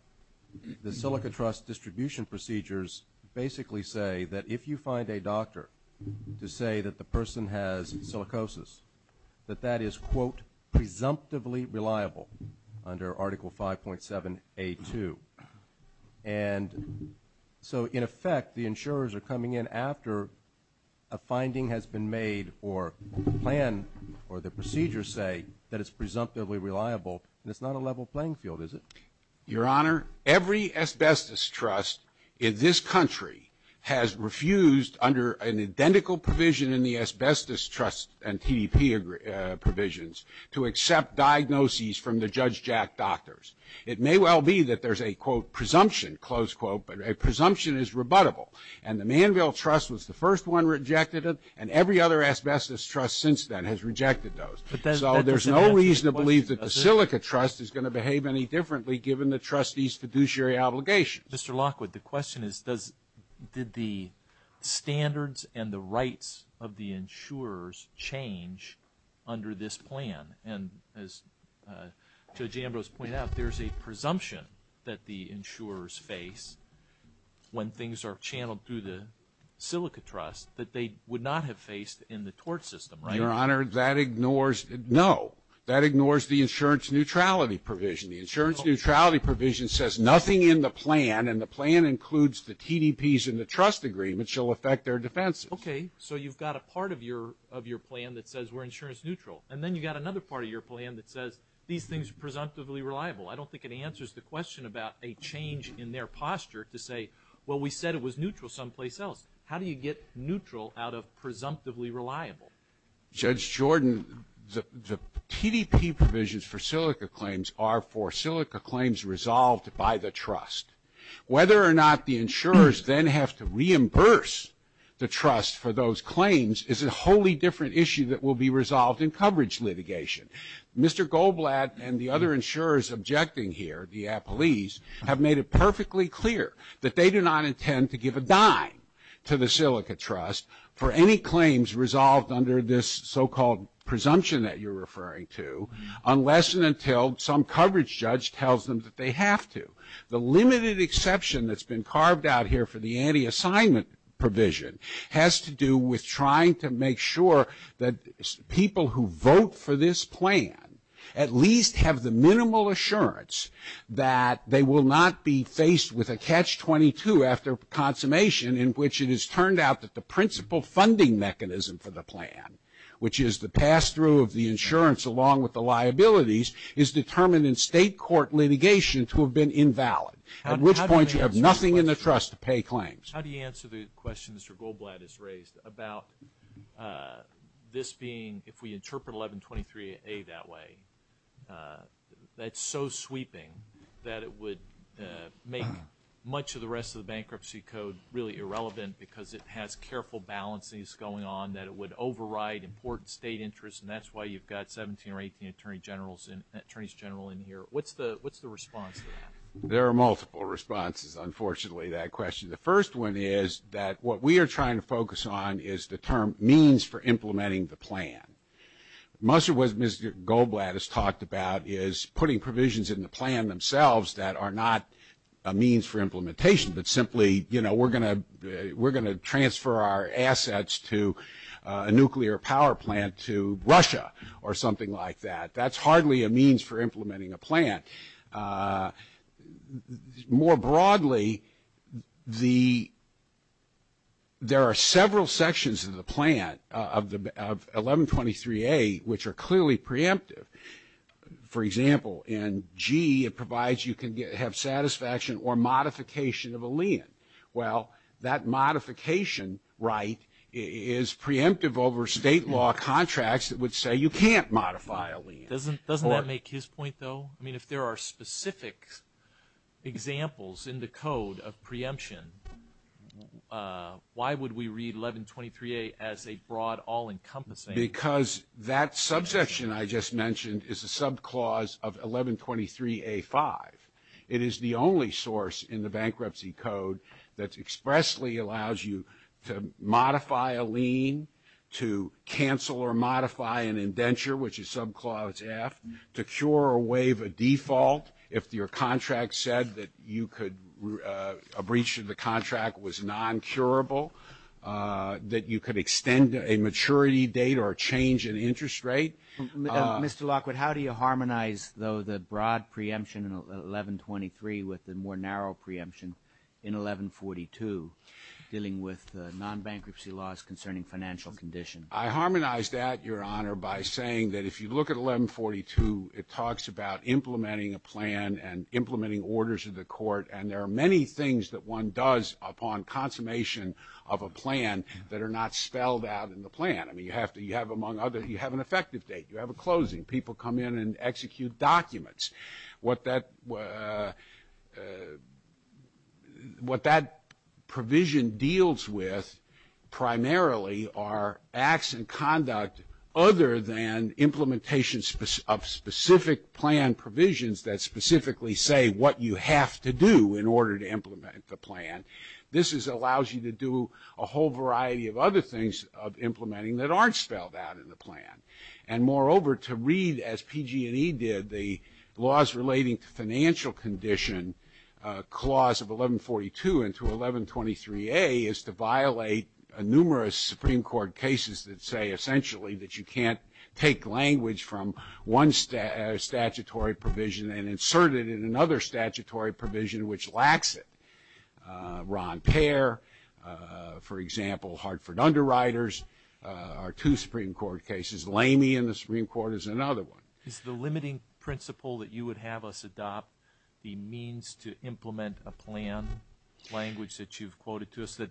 the silica trust distribution procedures basically say that if you find a doctor to say that the person has silicosis, that that is, quote, presumptively reliable under Article 5.7A2. And so, in effect, the insurers are coming in after a finding has been made or a plan or the procedures say that it's presumptively reliable, and it's not a level playing field, is it? Your Honor, every asbestos trust in this country has refused, under an identical provision in the asbestos trust and TDP provisions, to accept diagnoses from the Judge Jack Doctors. It may well be that there's a, quote, presumption, close quote, but a presumption is rebuttable. And the Manville Trust was the first one rejected it, and every other asbestos trust since then has rejected those. So, there's no reason to believe that the silica trust is going to behave any differently given the trustee's fiduciary obligations. Mr. Lockwood, the question is, did the standards and the rights of the insurers change under this plan? And as Judge Ambrose pointed out, there's a presumption that the insurers face when things are channeled through the silica trust that they would not have faced in the tort system, right? Your Honor, that ignores, no, that ignores the insurance neutrality provision. The insurance neutrality provision says nothing in the plan, and the plan includes the TDPs in the trust agreement shall affect their defenses. Okay. So, you've got a part of your plan that says we're insurance neutral. And then you've got another part of your plan that says these things are presumptively reliable. I don't think it answers the question about a change in their posture to say, well, we said it was neutral someplace else. How do you get neutral out of presumptively reliable? Judge Jordan, the TDP provisions for silica claims are for silica claims resolved by the trust. Whether or not the insurers then have to reimburse the trust for those claims is a wholly different issue that will be resolved in coverage litigation. Mr. Goldblatt and the other insurers objecting here, the appellees, have made it perfectly clear that they do not intend to give a dime to the silica trust for any claims resolved under this so-called presumption that you're referring to unless and until some coverage judge tells them that they have to. The limited exception that's been carved out here for the anti-assignment provision has to do with trying to make sure that people who vote for this plan at least have the minimal assurance that they will not be faced with a catch-22 after consummation in which it is determined in state court litigation to have been invalid, at which point you have nothing in the trust to pay claims. How do you answer the question Mr. Goldblatt has raised about this being, if we interpret 1123A that way, that's so sweeping that it would make much of the rest of the bankruptcy code really irrelevant because it has careful balances going on that it would override important state interests and that's why you've got 17 or 18 attorneys general in here. What's the response to that? There are multiple responses, unfortunately, to that question. The first one is that what we are trying to focus on is the term means for implementing the plan. Most of what Mr. Goldblatt has talked about is putting provisions in the plan themselves that are not a means for implementation, but simply we're going to transfer our assets to a nuclear power plant to Russia or something like that. That's hardly a means for implementing a plan. More broadly, there are several sections of the plan of 1123A which are clearly preemptive. For example, in G, it provides you can have satisfaction or modification of a lien. Well, that modification right is preemptive over state law contracts that would say you can't modify a lien. Doesn't that make his point though? I mean, if there are specific examples in the code of preemption, why would we read 1123A as a broad all-encompassing? Because that subsection I just mentioned is a subclause of 1123A-5. It is the only source in the bankruptcy code that expressly allows you to modify a lien, to cancel or modify an indenture, which is subclause F, to cure or waive a default. If your contract said that you could, a breach of the contract was non-curable, that you could extend a maturity date or a change in interest rate. Mr. Lockwood, how do you harmonize though the broad preemption in 1123 with the more narrow preemption in 1142 dealing with non-bankruptcy laws concerning financial condition? I harmonize that, Your Honor, by saying that if you look at 1142, it talks about implementing a plan and implementing orders of the court. And there are many things that one does upon consummation of a plan that are not spelled out in the plan. I mean, you have to, you have among others, you have an effective date, you have a closing, people come in and execute documents. What that, what that provision deals with primarily are acts and conduct other than implementation of specific plan provisions that specifically say what you have to do in order to implement the plan. This is, allows you to do a whole variety of other things of implementing that aren't spelled out in the plan. And moreover, to read, as PG&E did, the laws relating to financial condition, clause of 1142 and to 1123A, is to violate numerous Supreme Court cases that say essentially that you can't take language from one statutory provision and insert it in another statutory provision which lacks it. Ron Payer, for example, Hartford Underwriters, are two Supreme Court cases. Lamey in the Supreme Court is another one. Is the limiting principle that you would have us adopt the means to implement a plan language that you've quoted to us that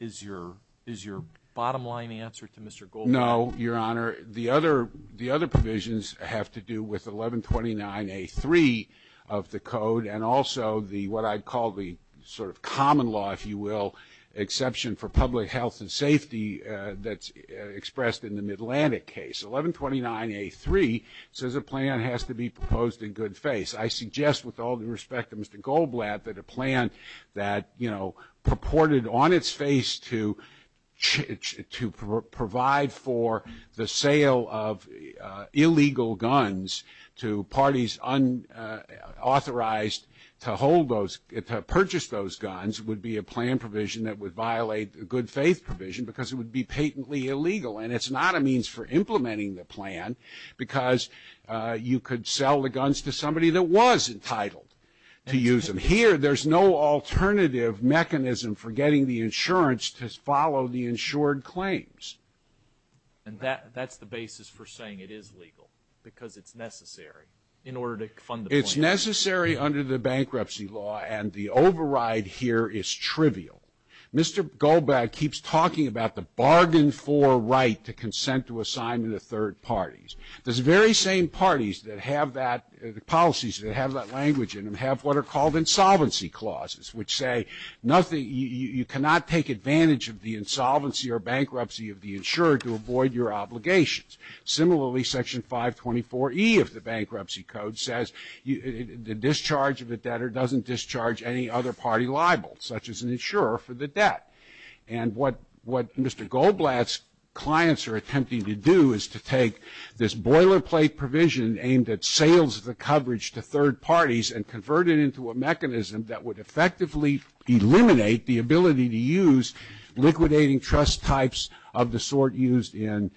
is your, is your bottom line answer to Mr. Goldberg? No, Your Honor. The other, the other provisions have to do with 1129A3 of the code and also the, what I'd call the sort of common law, if you will, exception for public health and safety that's expressed in the Mid-Atlantic case. 1129A3 says a plan has to be proposed in good face. I suggest with all due respect to Mr. Goldblatt that a plan that, you know, purported on its face to, to provide for the sale of illegal guns to parties unauthorized to hold those, to purchase those guns would be a plan provision that would violate the good faith provision because it would be patently illegal. And it's not a means for implementing the plan because you could sell the guns to somebody that was entitled to use them. And here there's no alternative mechanism for getting the insurance to follow the insured claims. And that, that's the basis for saying it is legal because it's necessary in order to fund the plan. It's necessary under the bankruptcy law and the override here is trivial. Mr. Goldblatt keeps talking about the bargain for right to consent to assign to the third parties. Those very same parties that have that, the policies that have that language in them have are called insolvency clauses, which say nothing, you cannot take advantage of the insolvency or bankruptcy of the insured to avoid your obligations. Similarly, Section 524E of the Bankruptcy Code says the discharge of the debtor doesn't discharge any other party liable, such as an insurer for the debt. And what, what Mr. Goldblatt's clients are attempting to do is to take this boilerplate provision aimed at sales of the coverage to third parties and convert it into a mechanism that would effectively eliminate the ability to use liquidating trust types of the sort used in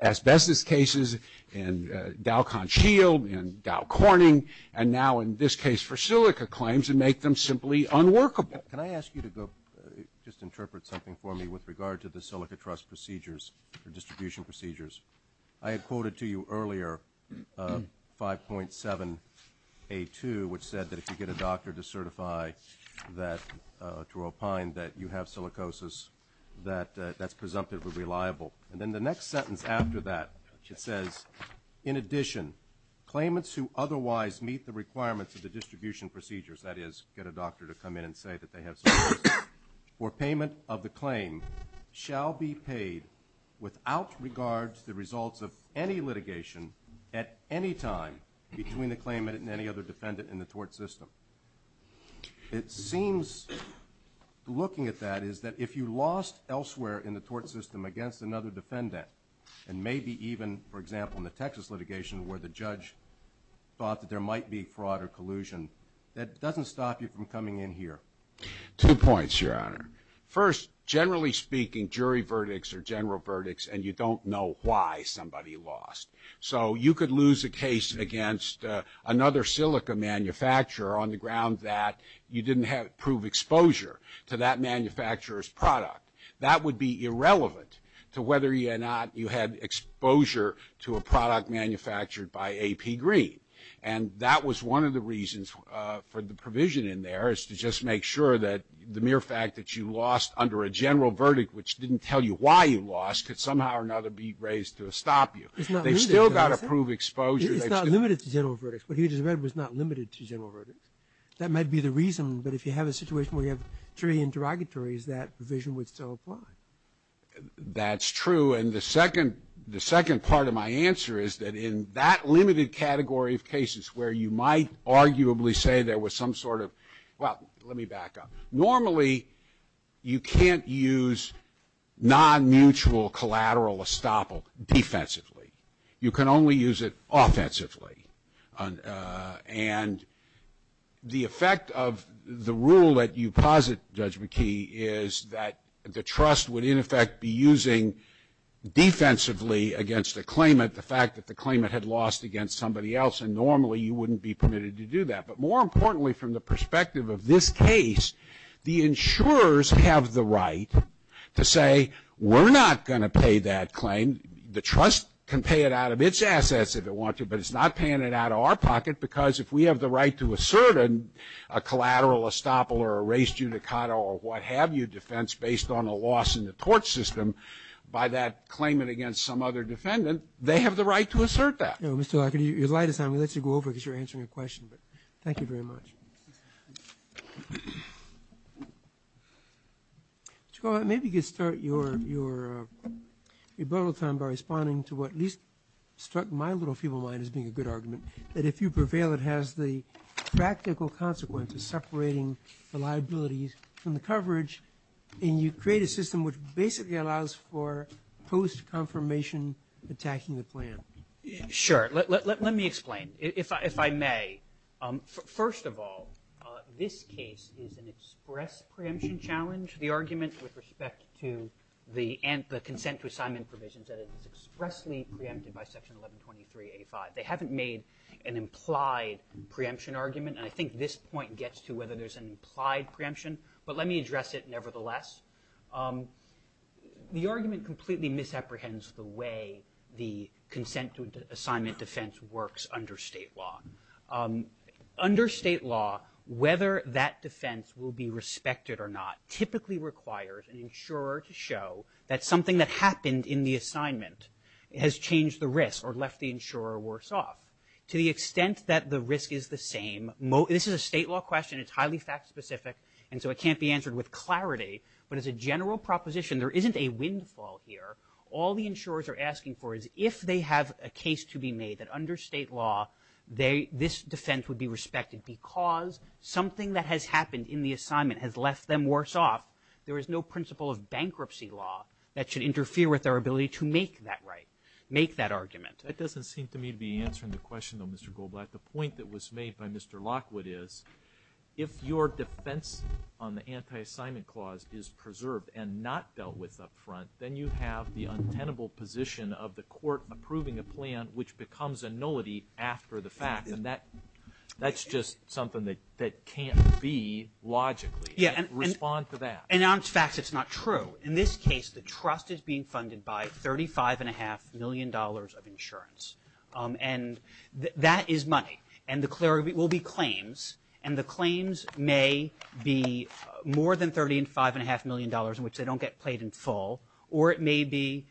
asbestos cases, in Dow Conch Shield, in Dow Corning, and now in this case for silica claims and make them simply unworkable. Can I ask you to go, just interpret something for me with regard to the silica trust procedures or distribution procedures? I had quoted to you earlier 5.7A2, which said that if you get a doctor to certify that, to opine that you have silicosis, that that's presumptively reliable. And then the next sentence after that, it says, in addition, claimants who otherwise meet the requirements of the distribution procedures, that is, get a doctor to come in and say that they have silicosis, for payment of the claim, shall be paid without regard to the results of any litigation at any time between the claimant and any other defendant in the tort system. It seems, looking at that, is that if you lost elsewhere in the tort system against another defendant, and maybe even, for example, in the Texas litigation where the judge thought that there might be fraud or collusion, that doesn't stop you from coming in here. Two points, Your Honor. First, generally speaking, jury verdicts are general verdicts, and you don't know why somebody lost. So, you could lose a case against another silica manufacturer on the ground that you didn't prove exposure to that manufacturer's product. That would be irrelevant to whether or not you had exposure to a product manufactured by A.P. Green. And that was one of the reasons for the provision in there, is to just make sure that the mere fact that you lost under a general verdict, which didn't tell you why you lost, could somehow or another be raised to stop you. It's not limited. They've still got to prove exposure. It's not limited to general verdicts. What he just read was not limited to general verdicts. That might be the reason, but if you have a situation where you have jury interrogatories, that provision would still apply. That's true. And the second part of my answer is that in that limited category of cases where you might arguably say there was some sort of, well, let me back up. Normally, you can't use non-mutual collateral estoppel defensively. You can only use it offensively. And the effect of the rule that you posit, Judge McKee, is that the trust would, in effect, be using defensively against the claimant the fact that the claimant had lost against somebody else. And normally, you wouldn't be permitted to do that. But more importantly, from the perspective of this case, the insurers have the right to say, we're not going to pay that claim. The trust can pay it out of its assets if it wants to, but it's not paying it out of our pocket, because if we have the right to assert a collateral estoppel or a race judicata or what have you defense based on a loss in the tort system by that claimant against some other defendant, they have the right to assert that. Mr. Lockhart, your light is on. We'll let you go over, because you're answering a question. But thank you very much. Maybe you could start your rebuttal time by responding to what at least struck my little feeble mind as being a good argument, that if you prevail, it has the practical consequence of separating the liabilities from the coverage, and you create a system which basically allows for post-confirmation attacking the plan. Sure. Let me explain, if I may. First of all, this case is an express preemption challenge. The argument with respect to the consent to assignment provisions that is expressly preempted by Section 1123A5. They haven't made an implied preemption argument. And I think this point gets to whether there's an implied preemption. But let me address it nevertheless. The argument completely misapprehends the way the consent to assignment defense works under state law. Under state law, whether that defense will be respected or not typically requires an insurer to show that something that happened in the assignment has changed the risk or left the insurer worse off. To the extent that the risk is the same, this is a state law question. It's highly fact specific, and so it can't be answered with clarity. But as a general proposition, there isn't a windfall here. All the insurers are asking for is if they have a case to be made that under state law, this defense would be respected because something that has happened in the assignment has left them worse off. There is no principle of bankruptcy law that should interfere with our ability to make that right, make that argument. That doesn't seem to me to be answering the question, though, Mr. Goldblatt. The point that was made by Mr. Lockwood is if your defense on the anti-assignment clause is preserved and not dealt with up front, then you have the untenable position of the court approving a plan which becomes a nullity after the fact. And that that's just something that that can't be logically. Yeah. And respond to that. And on facts, it's not true. In this case, the trust is being funded by thirty five and a half million dollars of insurance. And that is money. And the clarity will be claims. And the claims may be more than thirty and five and a half million dollars in which they don't get played in full. Or it may be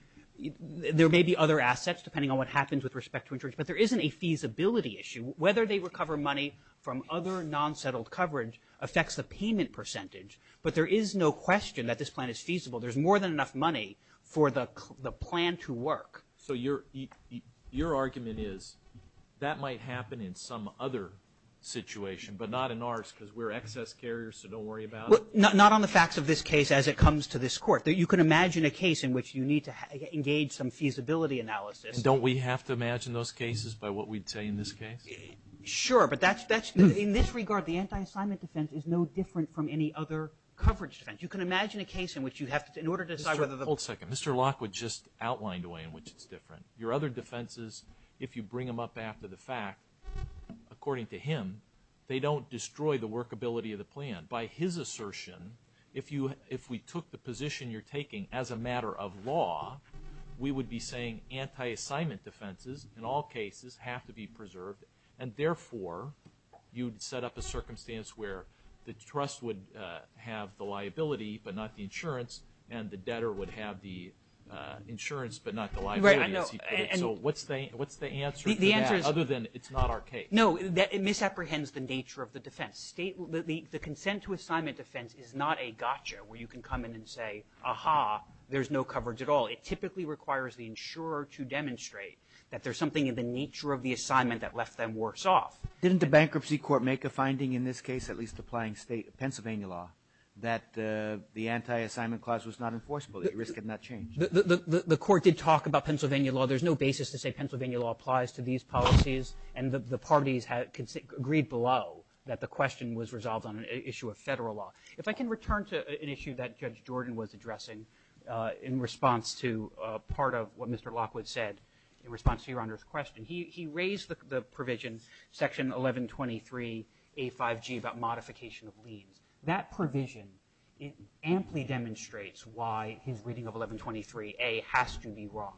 there may be other assets, depending on what happens with respect to interest. But there isn't a feasibility issue. Whether they recover money from other non-settled coverage affects the payment percentage. But there is no question that this plan is feasible. There's more than enough money for the plan to work. So your your argument is that might happen in some other situation, but not in ours because we're excess carriers. So don't worry about not on the facts of this case as it comes to this court that you can imagine a case in which you need to engage some feasibility analysis. Don't we have to imagine those cases by what we'd say in this case? Sure. But that's that's in this regard. The anti-assignment defense is no different from any other coverage defense. You can imagine a case in which you have to in order to decide whether the whole second Mr. Lockwood just outlined a way in which it's different. Your other defenses, if you bring them up after the fact, according to him, they don't destroy the workability of the plan by his assertion. If you if we took the position you're taking as a matter of law, we would be saying anti-assignment defenses in all cases have to be preserved. And therefore, you'd set up a circumstance where the trust would have the liability, but not the insurance. And the debtor would have the insurance, but not the liability as he could have. So what's the what's the answer? The answer is other than it's not our case. No, that it misapprehends the nature of the defense state. The consent to assignment defense is not a gotcha where you can come in and say, aha, there's no coverage at all. It typically requires the insurer to demonstrate that there's something in the nature of the assignment that left them worse off. Didn't the bankruptcy court make a finding in this case, at least applying state Pennsylvania law, that the anti-assignment clause was not enforceable, that the risk had not changed? The court did talk about Pennsylvania law. There's no basis to say Pennsylvania law applies to these policies. And the parties had agreed below that the question was resolved on an issue of federal law. If I can return to an issue that Judge Jordan was addressing in response to part of what Mr. Lockwood said in response to your Honor's question, he raised the provision, section 1123A5G, about modification of liens. That provision, it amply demonstrates why his reading of 1123A has to be wrong.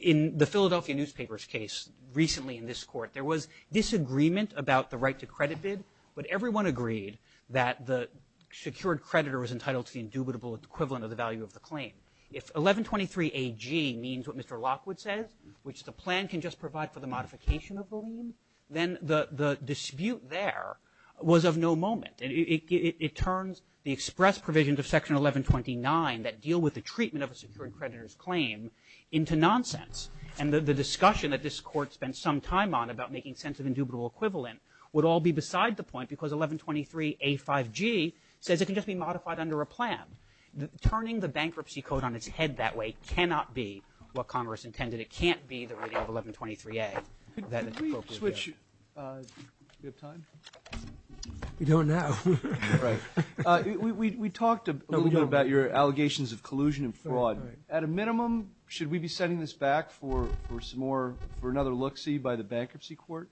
In the Philadelphia newspapers case recently in this court, there was disagreement about the right to credit bid, but everyone agreed that the secured creditor was entitled to the indubitable equivalent of the value of the claim. If 1123AG means what Mr. Lockwood says, which the plan can just provide for the modification of the lien, then the dispute there was of no moment. And it turns the express provisions of section 1129 that deal with the treatment of a secured creditor's claim into nonsense. And the discussion that this court spent some time on about making sense of indubitable equivalent would all be beside the point because 1123A5G says it can just be modified under a plan. Turning the bankruptcy code on its head that way cannot be what Congress intended. It can't be the reading of 1123A that it's appropriate to do. Could we switch, uh, do we have time? We don't now. Right. Uh, we, we, we talked a little bit about your allegations of collusion and fraud. At a minimum, should we be sending this back for, for some more, for another look-see by the bankruptcy court?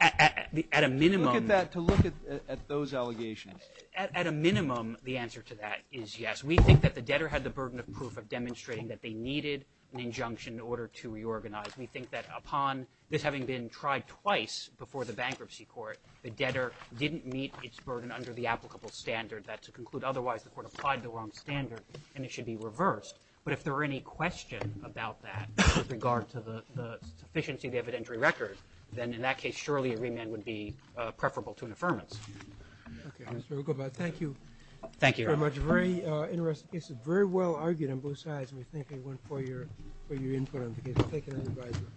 At a minimum. Look at that, to look at those allegations. At a minimum, the answer to that is yes. We think that the debtor had the burden of proof of demonstrating that they needed an injunction in order to reorganize. We think that upon this having been tried twice before the bankruptcy court, the debtor didn't meet its burden under the applicable standard that to conclude otherwise, the court applied the wrong standard and it should be reversed. But if there were any question about that with regard to the, the sufficiency of the evidentiary record, then in that case, surely a remand would be, uh, preferable to an affirmance. Okay. That's very good. But thank you. Thank you very much. Very, uh, interesting. This is very well argued on both sides. And we thank everyone for your, for your input on the case. We'll take it on the advisory.